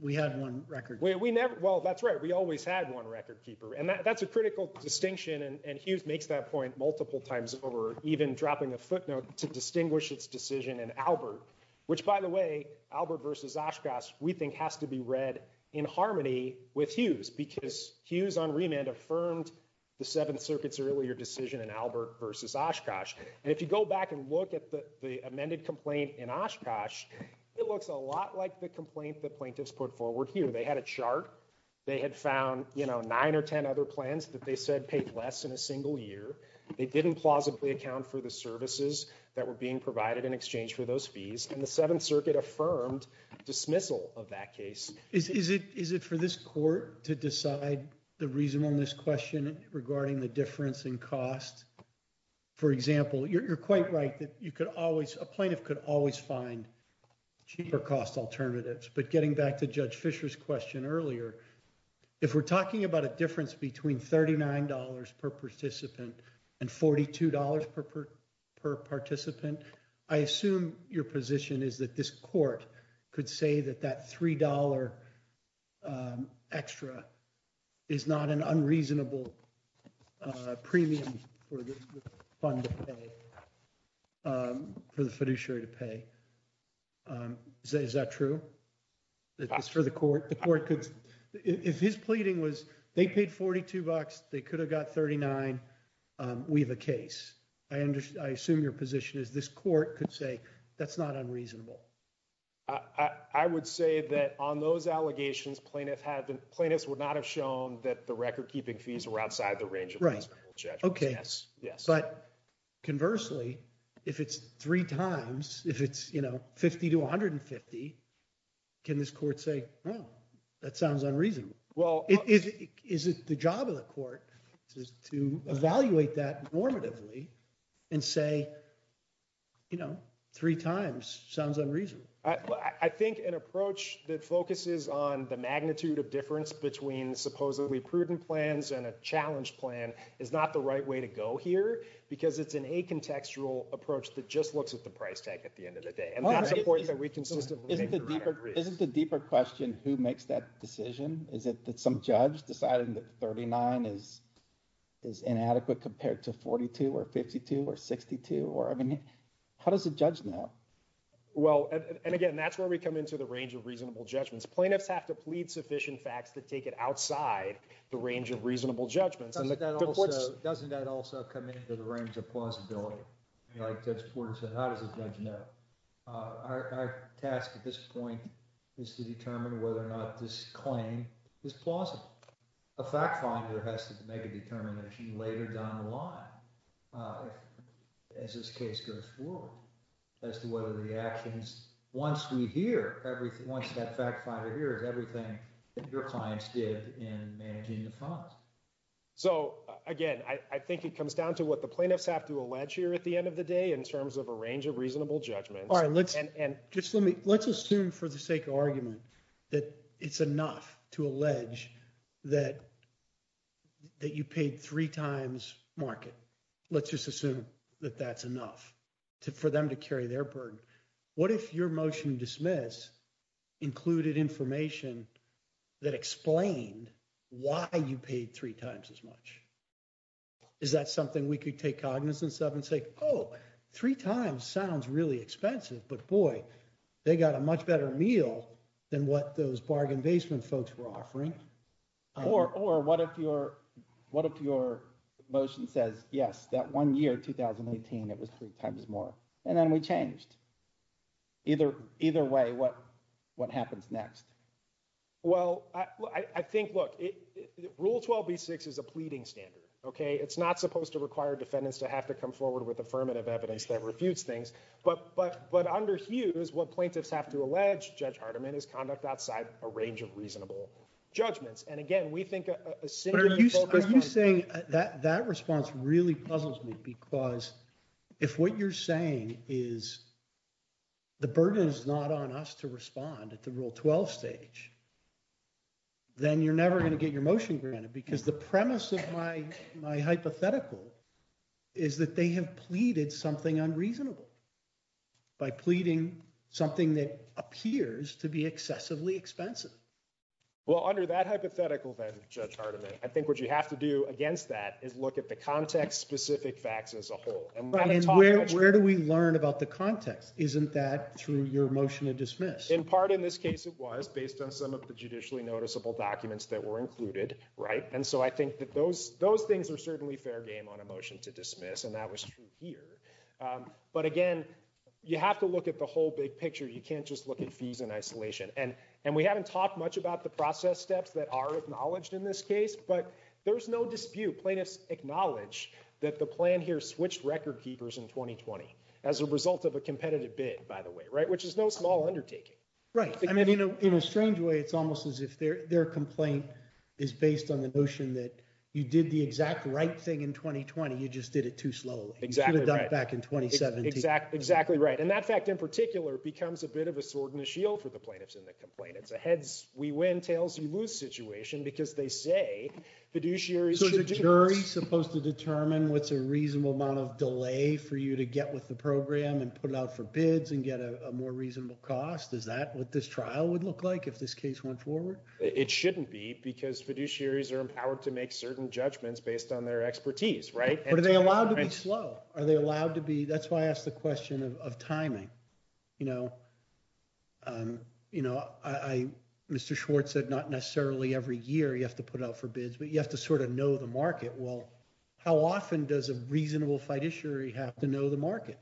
We had one record keeper. Well, that's right. We always had one record keeper. And that's a critical distinction. And Hughes makes that point multiple times over, even dropping a footnote to distinguish its decision in Albert, which by the way, Albert versus Oshkosh, we think has to be read in harmony with Hughes because Hughes on remand affirmed the Seventh Circuit's earlier decision in Albert versus Oshkosh. And if you go back and look at the amended complaint in Oshkosh, it looks a lot like the they had found nine or 10 other plans that they said paid less in a single year. They didn't plausibly account for the services that were being provided in exchange for those fees. And the Seventh Circuit affirmed dismissal of that case. Is it for this court to decide the reason on this question regarding the difference in cost? For example, you're quite right that a plaintiff could always find cheaper cost alternatives. But getting back to Judge earlier, if we're talking about a difference between $39 per participant and $42 per participant, I assume your position is that this court could say that that $3 extra is not an unreasonable premium for this fund to pay, for the fiduciary to pay. Is that true? If it's for the court, the court could, if his pleading was they paid $42, they could have got $39, we have a case. I assume your position is this court could say that's not unreasonable. I would say that on those allegations, plaintiffs have been, plaintiffs would not have shown that the record keeping fees were outside the range of reasonable Okay. But conversely, if it's three times, if it's 50 to 150, can this court say, that sounds unreasonable? Is it the job of the court to evaluate that normatively and say, three times sounds unreasonable? I think an approach that focuses on the magnitude of difference between supposedly prudent plans and a challenge plan is not the right way to go here, because it's an acontextual approach that just looks at the price tag at the end of the day. Isn't the deeper question, who makes that decision? Is it some judge deciding that $39 is inadequate compared to $42 or $52 or $62? How does the judge know? Well, and again, that's where we come into the range of reasonable judgments. Plaintiffs have to plead sufficient facts to take it outside the range of reasonable judgments. Doesn't that also come into the range of plausibility? That's where it's at. How does the judge know? Our task at this point is to determine whether or not this claim is plausible. A fact finder has to make a determination later down the line as this case goes forward, as to whether the actions, once we hear, once that fact finder everything your clients did in managing the cost. So again, I think it comes down to what the plaintiffs have to allege here at the end of the day in terms of a range of reasonable judgments. All right. Let's assume for the sake of argument that it's enough to allege that you paid three times market. Let's just assume that that's enough for them to carry their burden. What if your motion to dismiss included information that explained why you paid three times as much? Is that something we could take cognizance of and say, oh, three times sounds really expensive, but boy, they got a much better meal than what those bargain basement folks were offering? Or what if your motion says, yes, that one year, 2018, it was three times more. And then we changed. Either way, what happens next? Well, I think, look, rule 12B6 is a pleading standard, okay? It's not supposed to require defendants to have to come forward with affirmative evidence that refutes things, but what I understand is what plaintiffs have to allege, Judge Hardiman, is conduct outside a range of reasonable judgments. And again, we think- Are you saying that that response really puzzles me? Because if what you're saying is the burden is not on us to respond at the rule 12 stage, then you're never going to get your motion granted. Because the premise of my hypothetical is that they have pleaded something unreasonable by pleading something that appears to be excessively expensive. Well, under that hypothetical, then, Judge Hardiman, I think what you have to do against that is look at the context-specific facts as a whole. And I'm not talking- Where do we learn about the context? Isn't that through your motion to dismiss? In part, in this case, it was, based on some of the judicially noticeable documents that were included, right? And so I think that those things are certainly fair game on a motion to dismiss, and that was true here. But again, you have to look at the whole big picture. You can't just look at fees in isolation. And we haven't talked much about the process steps that are acknowledged in this case, but there's no dispute. Plaintiffs acknowledge that the plan here switched record keepers in 2020 as a result of a competitive bid, by the way, right? Which is no small undertaking. Right. I mean, in a strange way, it's almost as if their complaint is based on the notion that you did the exact right thing in 2020, you just did it too slowly. You should have done it back in 2017. Exactly right. And that fact, in particular, becomes a bit of a sword and a shield for the plaintiffs and the complainants. A heads, we win, tails, you lose situation because they say fiduciaries- So is the jury supposed to determine what's a reasonable amount of delay for you to get with the program and put it out for bids and get a more reasonable cost? Is that what this trial would look like if this case went forward? It shouldn't be because fiduciaries are empowered to make certain judgments based on their expertise, right? But are they allowed to be slow? Are they allowed to be? That's why I asked the question of timing. Mr. Schwartz said, not necessarily every year you have to put out for bids, but you have to sort of know the market. Well, how often does a reasonable fiduciary have to know the market?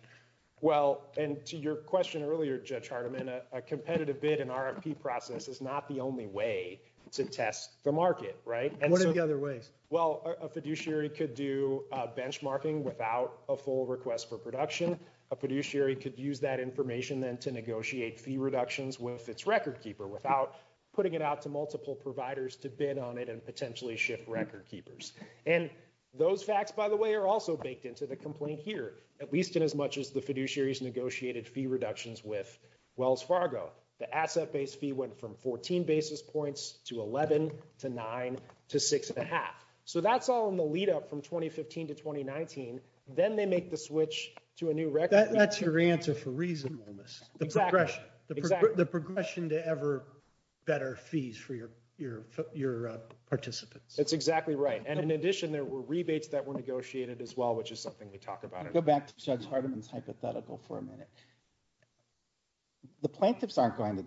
Well, and to your question earlier, Judge Hardiman, a competitive bid and RFP process is not the only way to test the market, right? What are the other ways? Well, a fiduciary could do benchmarking without a full request for production. A fiduciary could use that information then to negotiate fee reductions with its record keeper without putting it out to multiple providers to bid on it and potentially shift record keepers. And those facts, by the way, are also baked into the complaint here, at least in as much as the fiduciaries negotiated fee reductions with Wells Fargo. The asset base fee went from 14 basis points to 11 to nine to six and a half. So that's all in the lead up from 2015 to 2019. Then they make the switch to a new record. That's your answer for reasonableness. The progression to ever better fees for your participants. That's exactly right. And in addition, there were rebates that were negotiated as well, which is something we talk about. Go back to Judge Hardiman's hypothetical for a minute. The plaintiffs aren't going to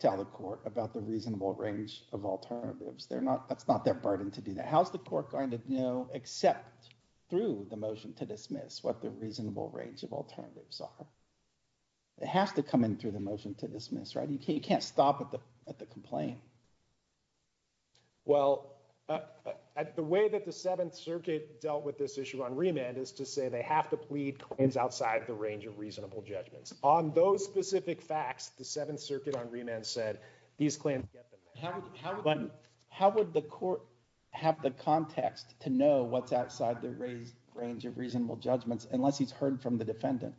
tell the court about the reasonable range of alternatives. That's not their burden to do that. How's the court going to know, except through the motion to dismiss, what the reasonable range of alternatives are? It has to come in through the motion to dismiss, right? You can't stop at the complaint. Well, the way that the Seventh Circuit dealt with this issue on remand is to say they have to plead claims outside the range of reasonable judgments. On those specific facts, the Seventh Circuit on remand said, these claims get them. How would the court have the context to know what's outside the range of reasonable judgments, unless he's heard from the defendant?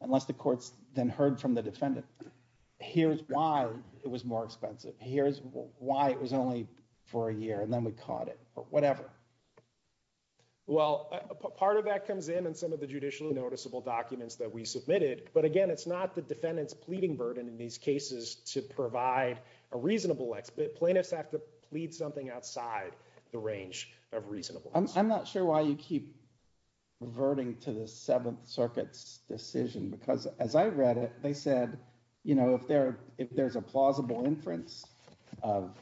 Unless the court's then heard from the defendant. Here's why it was more expensive. Here's why it was only for a year, and then we caught it or whatever. Well, part of that comes in in some of the judicially noticeable documents that we submitted, but again, it's not the defendant's pleading burden in these cases to provide a reasonable, plaintiffs have to plead something outside the range of reasonable. I'm not sure why you keep reverting to the Seventh Circuit's decision, because as I read it, they said, if there's a plausible inference of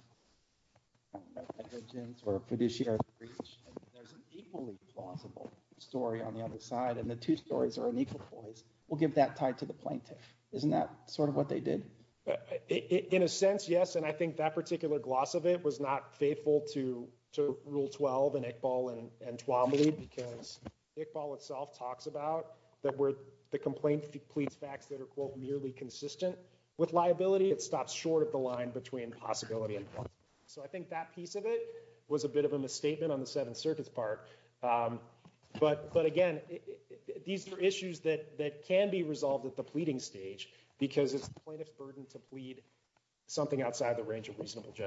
negligence or fiduciary breach, and there's an equally plausible story on the other side, and the two stories are in equal place, we'll get that tied to the plaintiff. Isn't that sort of what they did? In a sense, yes, and I think that particular gloss of it was not faithful to Rule 12 in Iqbal and Tuamli, because Iqbal itself talks about that where the complaint pleads facts that are, quote, merely consistent with liability, it stops short of the line between possibility. So I think that piece of it was a bit of a misstatement on the Seventh Circuit's part, but again, these are issues that can be resolved at the pleading stage, because it's a plaintiff's burden to plead something outside the range of reasonable The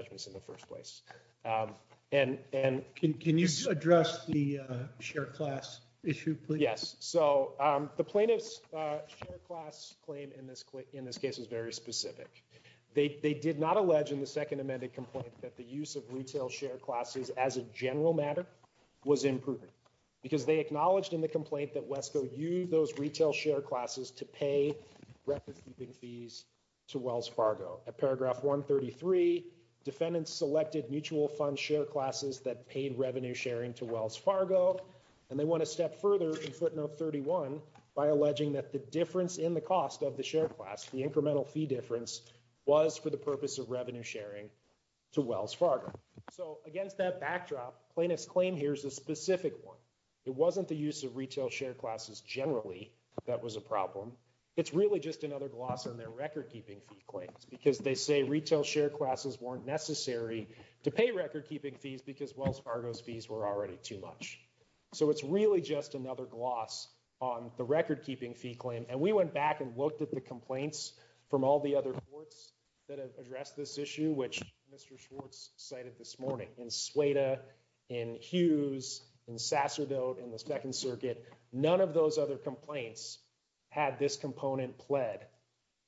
plaintiff's share class claim in this case is very specific. They did not allege in the Second Amended Complaint that the use of retail share classes as a general matter was improved, because they acknowledged in the complaint that WESCO used those retail share classes to pay revenue keeping fees to Wells Fargo. At paragraph 133, defendants selected mutual fund share classes that paid revenue sharing to Wells Fargo, and they went a step further in footnote 31 by alleging that the difference in the cost of the share class, the incremental fee difference, was for the purpose of revenue sharing to Wells Fargo. So against that backdrop, plaintiff's claim here is a specific one. It wasn't the use of retail share classes generally that was a problem. It's really just another gloss on their record keeping fee claims, because they say retail share classes weren't necessary to pay record keeping fees because Wells Fargo's fees were already too much. So it's really just another gloss on the record keeping fee claim, and we went back and looked at the complaints from all the other courts that have addressed this issue, which Mr. Schwartz cited this morning in Sueda, in Hughes, in Sasserdale, in the Second Circuit. None of those other complaints had this component pled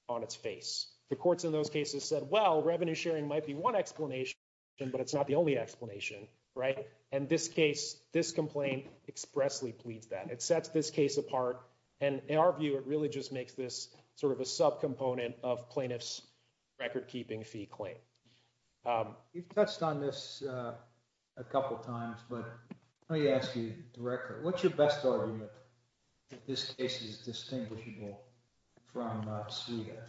on its face. The courts in those cases said, well, revenue sharing might be one explanation, but it's not the only explanation, right? And this case, this complaint expressly pleads that. It sets this case apart, and in our view, it really just makes this sort of a subcomponent of plaintiff's record keeping fee claim. We've touched on this a couple of times, but let me ask you directly, what's your best argument that this case is distinguishable from Sueda?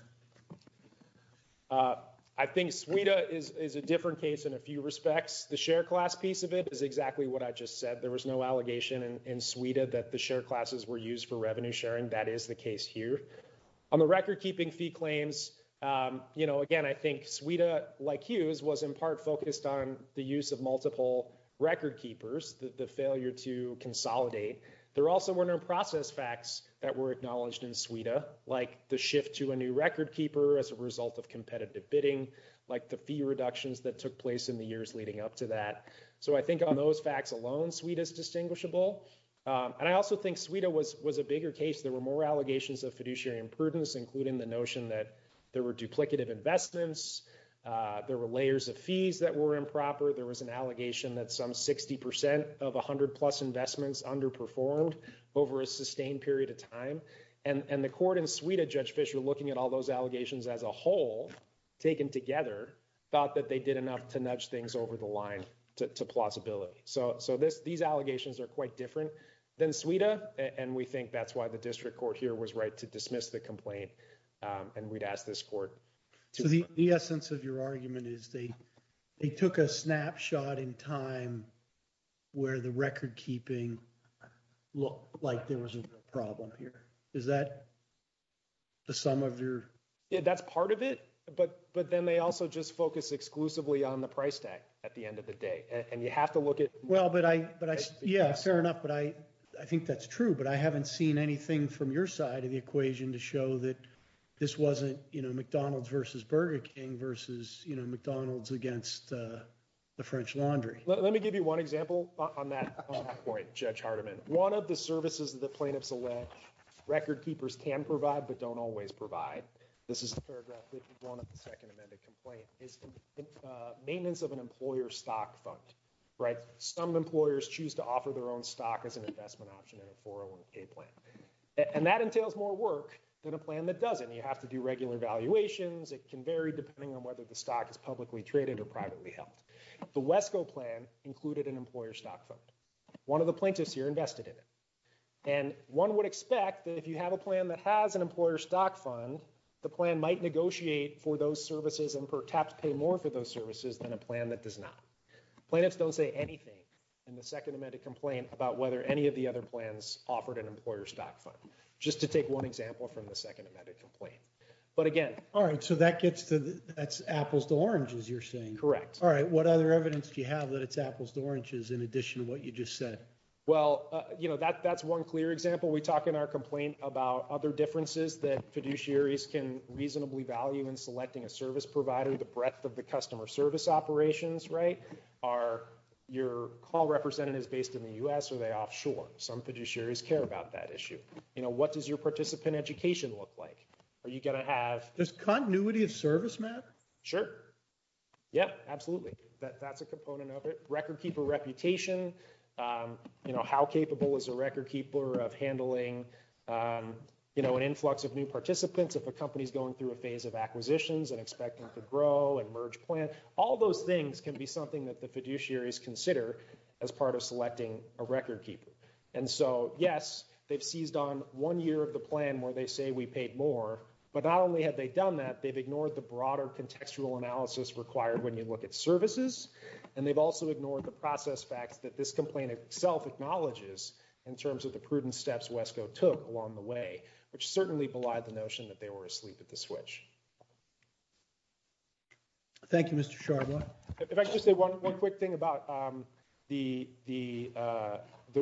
I think Sueda is a different case in a few respects. The share class piece of it is exactly what I just said. There was no allegation in Sueda that the share classes were used for revenue sharing. That is the case here. On the record keeping fee claims, again, I think Sueda, like Hughes, was in part focused on the use of multiple record keepers, the failure to consolidate. There also were no process facts that were acknowledged in Sueda, like the shift to a new record keeper as a result of competitive bidding, like the fee reductions that took place in the years leading up to that. So I think on those facts alone, Sueda is distinguishable. And I also think Sueda was a bigger case. There were more allegations of fiduciary imprudence, including the notion that there were duplicative investments, there were layers of fees that were formed over a sustained period of time. And the court in Sueda, Judge Fischer, looking at all those allegations as a whole, taken together, thought that they did enough to nudge things over the line to plausibility. So these allegations are quite different than Sueda, and we think that's why the district court here was right to dismiss the complaint, and we'd ask this court. So the essence of your argument is they took a snapshot in time where the record keeping looked like there was a problem here. Is that the sum of your... Yeah, that's part of it. But then they also just focused exclusively on the price tag at the end of the day. And you have to look at... Well, but I... Yeah, fair enough. But I think that's true. But I haven't seen anything from your side of the equation to show that this wasn't McDonald's versus Burger King versus McDonald's against the French Laundry. Let me give you one example on that point, Judge Hardiman. One of the services that plaintiffs elect, record keepers can provide but don't always provide, this is a paragraph with one of the Second Amendment complaints, is the maintenance of an employer stock fund, right? Some employers choose to offer their own stock as an investment option in a 401k plan. And that entails more work than a plan that doesn't. You have to do regular valuations. It can vary depending on whether the stock is publicly traded or privately held. The WESCO plan included an employer stock fund. One of the plaintiffs here invested in it. And one would expect that if you have a plan that has an employer stock fund, the plan might negotiate for those services and perhaps pay more for those services than a plan that does not. Plaintiffs don't say anything in the Second Amendment complaint about whether any of the other plans offered an employer stock fund, just to take one example from the Second Amendment complaint. But again... All right. So that gets to... That's apples to oranges, you're saying. Correct. What other evidence do you have that it's apples to oranges in addition to what you just said? Well, that's one clear example. We talk in our complaint about other differences that fiduciaries can reasonably value in selecting a service provider, the breadth of the customer service operations, right? Are your call representatives based in the U.S. or are they offshore? Some fiduciaries care about that issue. What does your participant education look like? Are you going to have... Does continuity of service matter? Sure. Yep, absolutely. That's a component of it. Recordkeeper reputation, how capable is a recordkeeper of handling an influx of new participants if a company's going through a phase of acquisitions and expecting to grow and merge plans? All those things can be something that the fiduciaries consider as part of selecting a recordkeeper. And so, yes, they've seized on one year of the plan where they say we paid more, but not only have they done that, they've ignored the broader contextual analysis required when they look at services, and they've also ignored the process fact that this complaint itself acknowledges in terms of the prudent steps WESCO took along the way, which certainly belied the notion that they were asleep at the switch. Thank you, Mr. Sharma. If I could just say one quick thing about the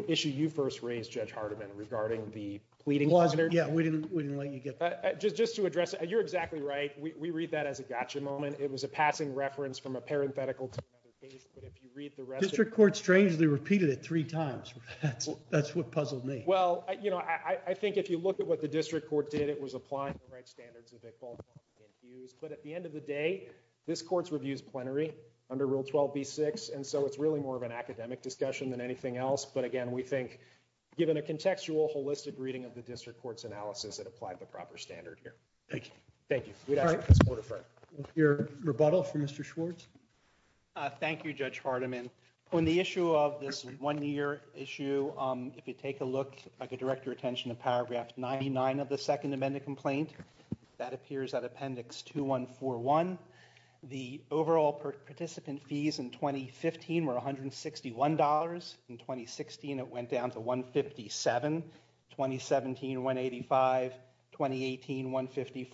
issue you first raised, Judge Hardiman, regarding the tweeting... Yeah, we didn't let you get that. Just to address it, you're exactly right. We read that as a gotcha moment. It was a passing reference from a parenthetical... District Court strangely repeated it three times. That's what puzzled me. Well, I think if you look at what the district court did, it was applying the right standards that they've all been used. But at the end of the day, this court's reviews plenary under Rule 12b-6, and so it's really more of an academic discussion than anything else. But again, we think given a contextual holistic reading of the district court's analysis, it applied the proper standard here. Thank you. Thank you. Your rebuttal for Mr. Schwartz? Thank you, Judge Hardiman. On the issue of this one-year issue, if you take a look, if I could direct your attention to paragraph 99 of the Second Amendment complaint, that appears at Appendix 2141. The overall participant fees in 2015 were $161. In 2016, it went down to $157, 2017, $185, 2018, $154,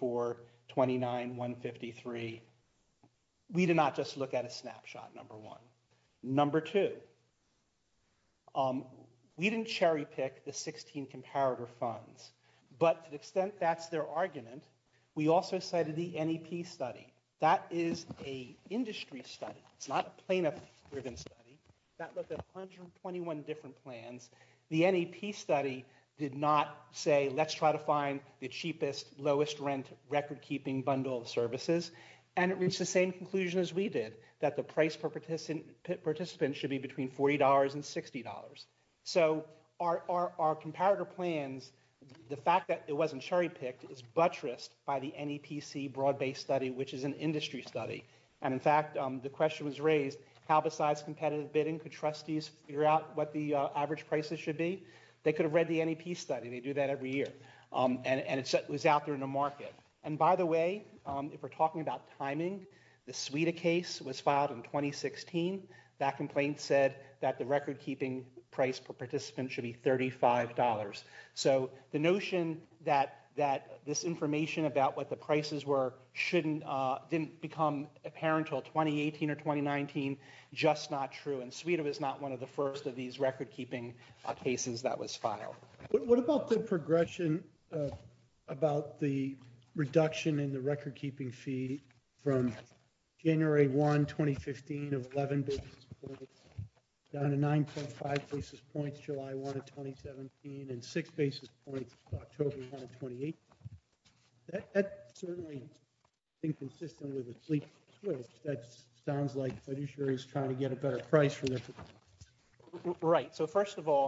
$29, $153. We did not just look at a snapshot, number one. Number two, we didn't cherry-pick the 16 comparator funds. But to the extent that's their argument, we also cited the NEP study. That is an industry study, not a plaintiff-driven study. That looked at 121 different plans. The NEP study did not say, let's try to find the cheapest, lowest-rent record-keeping bundle of services. And it reached the same conclusion as we did, that the price per participant should be between $40 and $60. So our comparator plans, the fact that it wasn't cherry-picked is buttressed by the NEPC broad-based study, which is an industry study. And in fact, the question was raised, how besides competitive bidding could trustees figure out what the average prices should be? They could have read the NEP study. They do that every year. And it was out there in the market. And by the way, if we're talking about timing, the Suida case was filed in 2016. That complaint said that the record-keeping price per participant should be $35. So the notion that this information about what the prices were didn't become apparent until 2018 or 2019, just not true. And Suida was not one of the first of these record-keeping cases that was filed. What about the progression about the reduction in prices? Right. So first of all,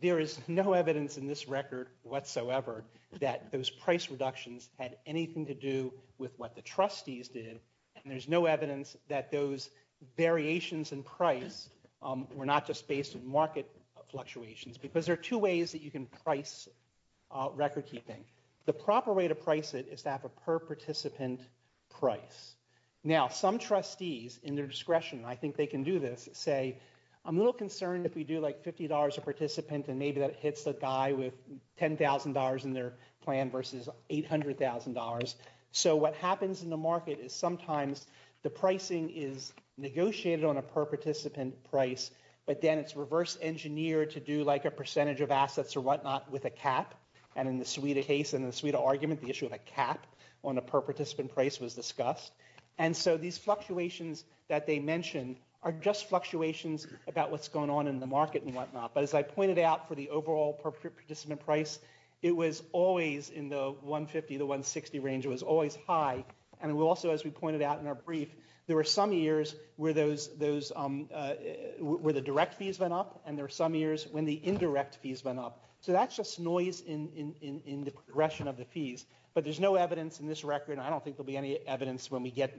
there is no evidence in this record whatsoever that those price reductions had anything to do with what the trustees did. And there's no evidence that those variations in price were not just based on market fluctuations, because there are two ways that you can price record-keeping. The proper way to price it is to have a per participant price. Now, some trustees, in their discretion, I think they can do this, say, I'm a little concerned if we do like $50 a participant, and maybe that hits the guy with $10,000 in their plan versus $800,000. So what happens in the market is sometimes the pricing is negotiated on a per participant price, but then it's reverse engineered to do like a percentage of assets or whatnot with a cap. And in the Suida case, in the Suida argument, the issue of a cap on a per participant price was discussed. And so these fluctuations that they mentioned are just fluctuations about what's going on in the market and whatnot. But as I pointed out for the overall per participant price, it was always in the 150 to 160 range. It was always high. And also, as we pointed out in our brief, there were some years where the direct fees went up, and there were some years when the indirect fees went up. So that's just noise in the progression of the fees. But there's no evidence in this record, and I don't think there'll be any evidence when we get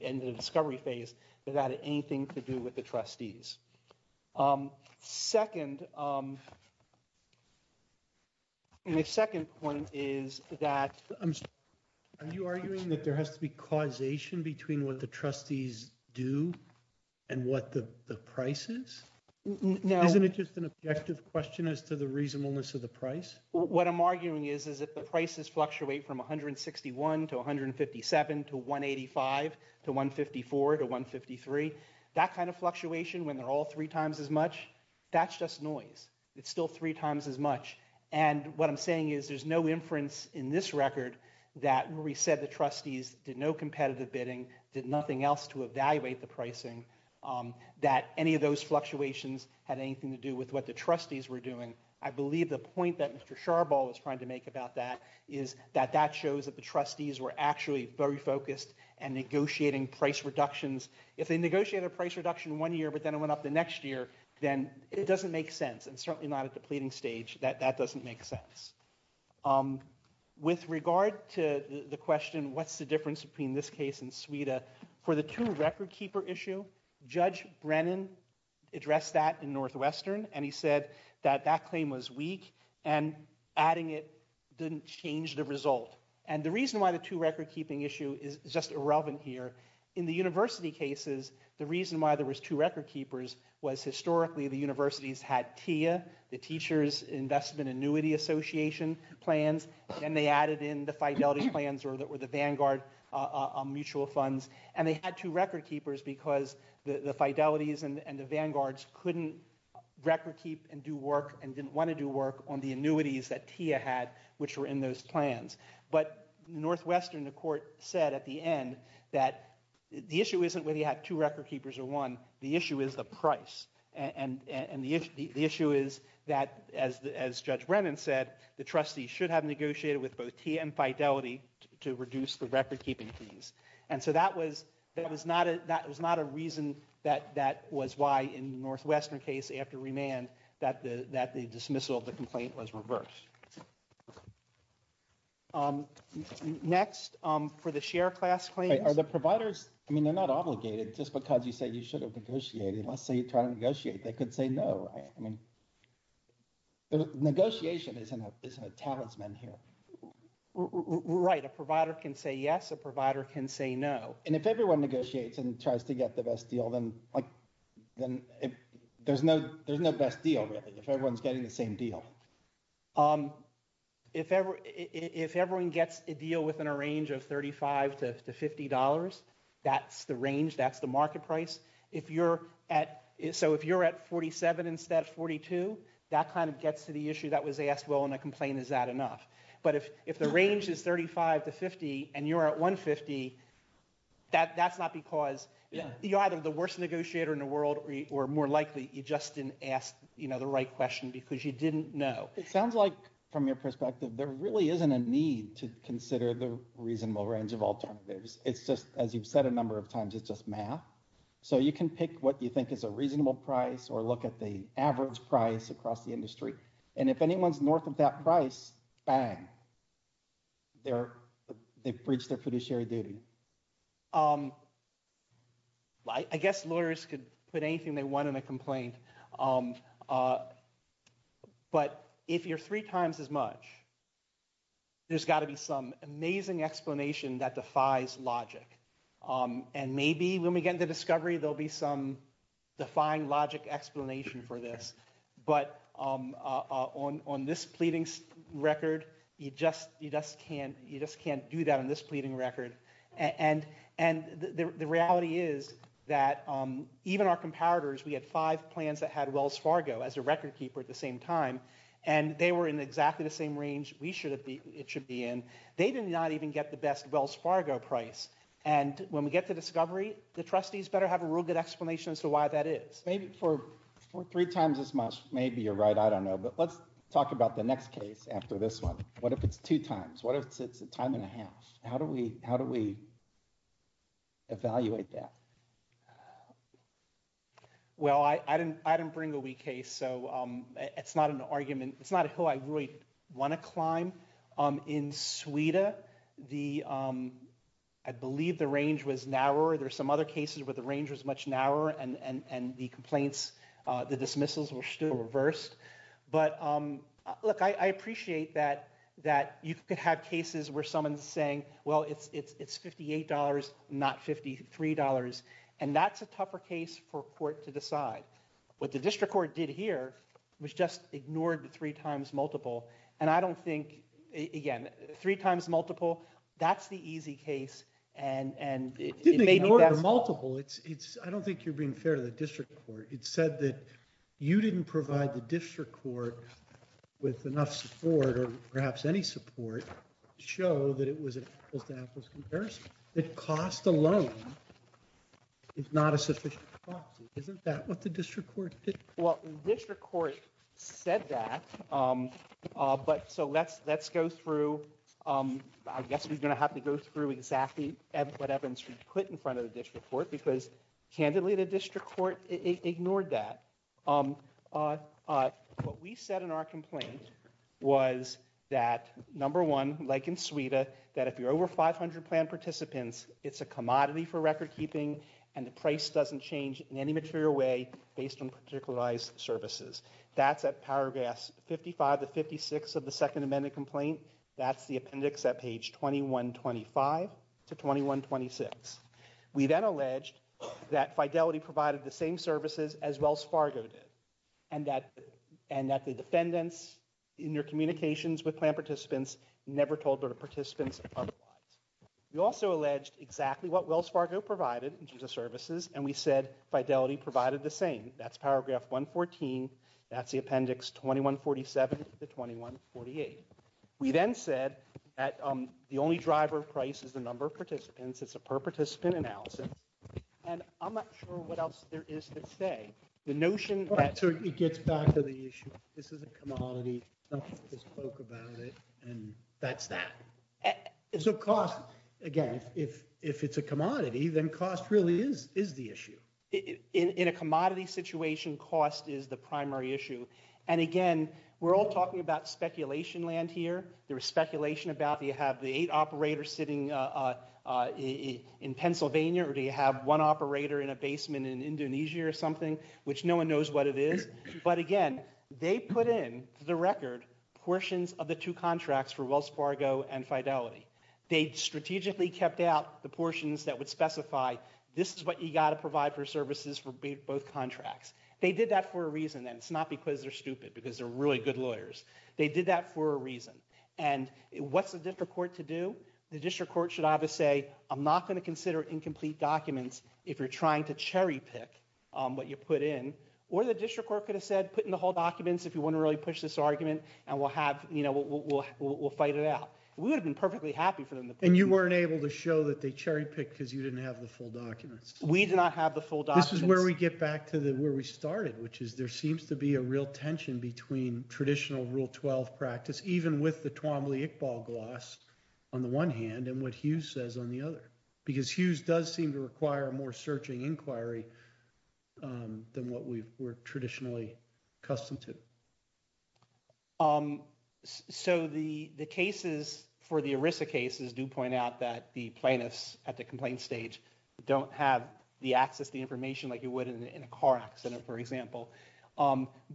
into the discovery phase that it had anything to do with the trustees. And the second point is that... Are you arguing that there has to be causation between what the trustees do and what the price is? Isn't it just an objective question as to the reasonableness of the price? What I'm arguing is that the prices fluctuate from 161 to 157 to 185 to 154 to 153. That kind of fluctuation, when they're all three times as much, that's just noise. It's still three times as much. And what I'm saying is there's no inference in this record that where we said the trustees did no competitive bidding, did nothing else to evaluate the pricing, that any of those fluctuations had anything to do with what the trustees were doing. I believe the point that Mr. Charbol was trying to make about that is that that shows that the trustees were actually very focused and negotiating price reductions. If they negotiated a price reduction one year, but then it went up the next year, then it doesn't make sense. And certainly not at the pleading stage, that doesn't make sense. With regard to the question, what's the difference between this case and Suida? For the two record keeper issue, Judge Brennan addressed that in Northwestern, and he said that that claim was weak, and adding it didn't change the result. And the reason why the two record keeping issue is just irrelevant here, in the university cases, the reason why there was two record keepers was historically the universities had TIA, the Teachers Investment Annuity Association plans, and they added in the Fidelity plans, or the Vanguard mutual funds. And they had two record keepers because the Fidelities and the record keep and do work and didn't want to do work on the annuities that TIA had, which were in those plans. But Northwestern, the court said at the end, that the issue isn't that he had two record keepers or one, the issue is the price. And the issue is that, as Judge Brennan said, the trustees should have negotiated with both TIA and Fidelity to reduce the record keeping fees. And so that was not a reason that was why in Northwestern case after remand, that the dismissal of the complaint was reversed. Next, for the share class claim. Are the providers, I mean, they're not obligated just because you said you should have negotiated, let's say you try to negotiate, they could say no. Negotiation isn't a talisman here. Right. A provider can say yes, a provider can say no. And if everyone negotiates and tries to get the best deal, then there's no best deal, really, if everyone's getting the same deal. If everyone gets a deal within a range of $35 to $50, that's the range, that's the market price. So if you're at $47 instead of $42, that kind of gets to the issue that was asked, well, in a complaint, is that enough? But if the range is $35 to $50, and you're at $150, that's not because you're either the worst negotiator in the world or more likely you just didn't ask the right question because you didn't know. It sounds like from your perspective, there really isn't a need to consider the reasonable range of alternatives. It's just, as you've said a number of times, it's just math. So you can pick what you think is a reasonable price or look at the average price across the time. They bridge their fiduciary duty. I guess lawyers could put anything they want in a complaint. But if you're three times as much, there's got to be some amazing explanation that defies logic. And maybe when we get into discovery, there'll be some defying logic explanation for this. But on this pleading record, you just can't do that on this pleading record. And the reality is that even our comparators, we had five plans that had Wells Fargo as a record keeper at the same time, and they were in exactly the same range it should be in. They did not even get the best Wells Fargo price. And when we get to discovery, the trustees better have a real good explanation as to why that is. Maybe for three times as much, maybe you're right. I don't know. But let's talk about the next case after this one. What if it's two times? What if it's a time and a half? How do we evaluate that? Well, I didn't bring a weak case, so it's not an argument. It's not a hill I really want to climb. In Sweden, I believe the range was much narrower and the complaints, the dismissals were still reversed. But look, I appreciate that you could have cases where someone's saying, well, it's $58, not $53. And that's a tougher case for court to decide. What the district court did here was just ignored the three times multiple. And I don't think you're being fair to the district court. It said that you didn't provide the district court with enough support or perhaps any support to show that it was a cost comparison. The cost alone is not a sufficient policy. Isn't that what the district court did? Well, the district court said that. But so let's go through. I guess we're going to have to go through exactly what happens if you put in front of the district court, because candidly, the district court ignored that. What we said in our complaint was that, number one, like in Sweden, that if you're over 500 planned participants, it's a commodity for recordkeeping and the price doesn't change in any material way based on particularized services. That's at paragraphs 55 to 56 of the We then alleged that Fidelity provided the same services as Wells Fargo did, and that the defendants in their communications with plan participants never told their participants otherwise. We also alleged exactly what Wells Fargo provided in terms of services, and we said Fidelity provided the same. That's paragraph 114. That's the appendix 2147 to 2148. We then said that the only driver of price is the number of participants. It's a per-participant analysis, and I'm not sure what else there is to say. The notion... Well, that certainly gets back to the issue. This is a commodity. Something is broke about it, and that's that. So cost, again, if it's a commodity, then cost really is the issue. In a commodity situation, cost is the primary issue. And again, we're all talking about speculation land here. There's speculation about, do you have the eight operators sitting in Pennsylvania, or do you have one operator in a basement in Indonesia or something, which no one knows what it is. But again, they put in the record portions of the two contracts for Wells Fargo and Fidelity. They strategically kept out the portions that would specify, this is what you got to provide for services for both contracts. They did that for a reason, and it's not because they're stupid, because they're really good lawyers. They did that for a reason. And what's the district court to do? The district court should either say, I'm not going to consider incomplete documents if you're trying to cherry pick what you put in, or the district court could have said, put in the whole documents if you want to really push this argument, and we'll fight it out. We would have been perfectly happy for them. And you weren't able to show that they cherry picked because you didn't have the full documents. We did not have the full documents. This is where we get back to where we started, which is there seems to be a real tension between traditional Rule 12 practice, even with the Twombly-Iqbal gloss on the one hand, and what Hughes says on the other, because Hughes does seem to require more searching inquiry than what we were traditionally accustomed to. So the cases for the ERISA cases do point out that the plaintiffs at the complaint stage don't have the access to information like you would in a car accident, for example.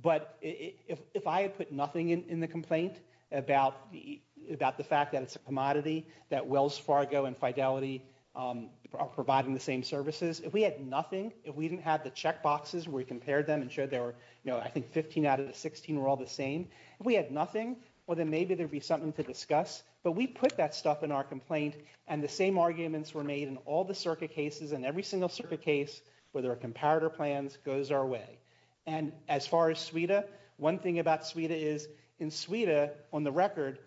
But if I had put nothing in the complaint about the fact that it's a commodity, that Wells Fargo and Fidelity are providing the same services, if we had nothing, if we didn't have the checkboxes where we compared them and showed they were, you know, I think 15 out of the 16 were all the same, if we had nothing, well, then maybe there'd be something to discuss. But we put that stuff in our complaint, and the same arguments were made in all the circuit cases, and every single circuit case where there are comparator plans goes our way. And as far as Sweden, one thing about Sweden is in Sweden, on the record,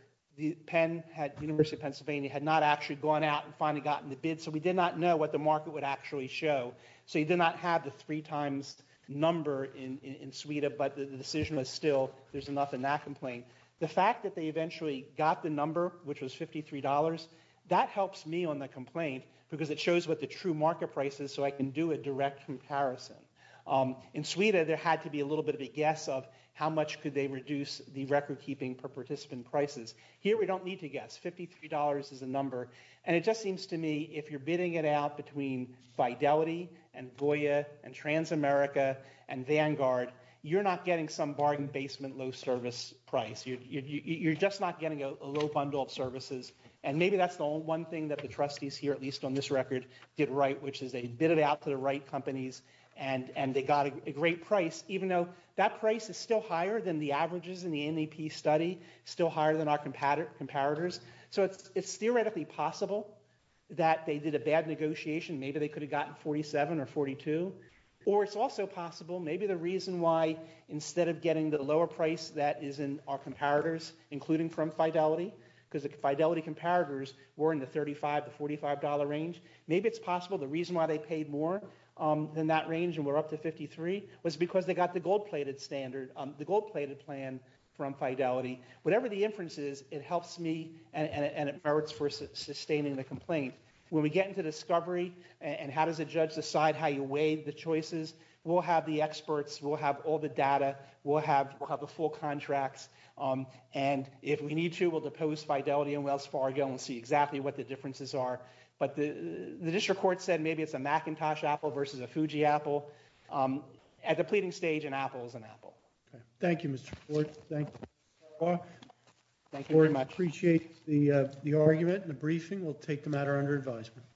Penn, the University of Pennsylvania, had not actually gone out and finally gotten the bid, so we did not know what the market would actually show. So you did not have the three times number in Sweden, but the decision was still there's enough in that complaint. The fact that they eventually got the number, which was $53, that helps me on the complaint, because it shows what the true market price is, so I can do a direct comparison. In Sweden, there had to be a little bit of a guess of how much could they reduce the record keeping per participant prices. Here, we don't need to guess, $53 is a number, and it just seems to me if you're bidding it out between Fidelity and Voya and Transamerica and Vanguard, you're not getting some barred-in-basement low service price. You're just not getting a low bundle of services, and maybe that's the only one thing that the trustees here, at least on this record, did right, which is they bidded out to the right companies, and they got a great price, even though that price is still higher than the averages in the NAP study, still higher than our comparators. So it's theoretically possible that they did a bad negotiation. Maybe they could have gotten $47 or $42, or it's also possible, maybe the reason why, instead of getting the lower price that is in our comparators, including from Fidelity, because the Fidelity comparators were in the $35 to $45 range, maybe it's possible the reason why they paid more than that range and were up to $53 was because they got the gold-plated standard, the gold-plated plan from Fidelity. Whatever the inference is, it helps me, and it merits for sustaining the complaint. When we get into discovery and how does the judge decide how you weigh the choices, we'll have the experts, we'll have all the data, we'll have the full contracts, and if we need to, we'll depose Fidelity and Wells Fargo and see exactly what the differences are. But the district court said maybe it's a Macintosh apple versus a Fuji apple. At the pleading stage, an apple is an apple. Thank you, Mr. Floyd, thank you. I appreciate the argument, the briefing. We'll take the matter under advisement.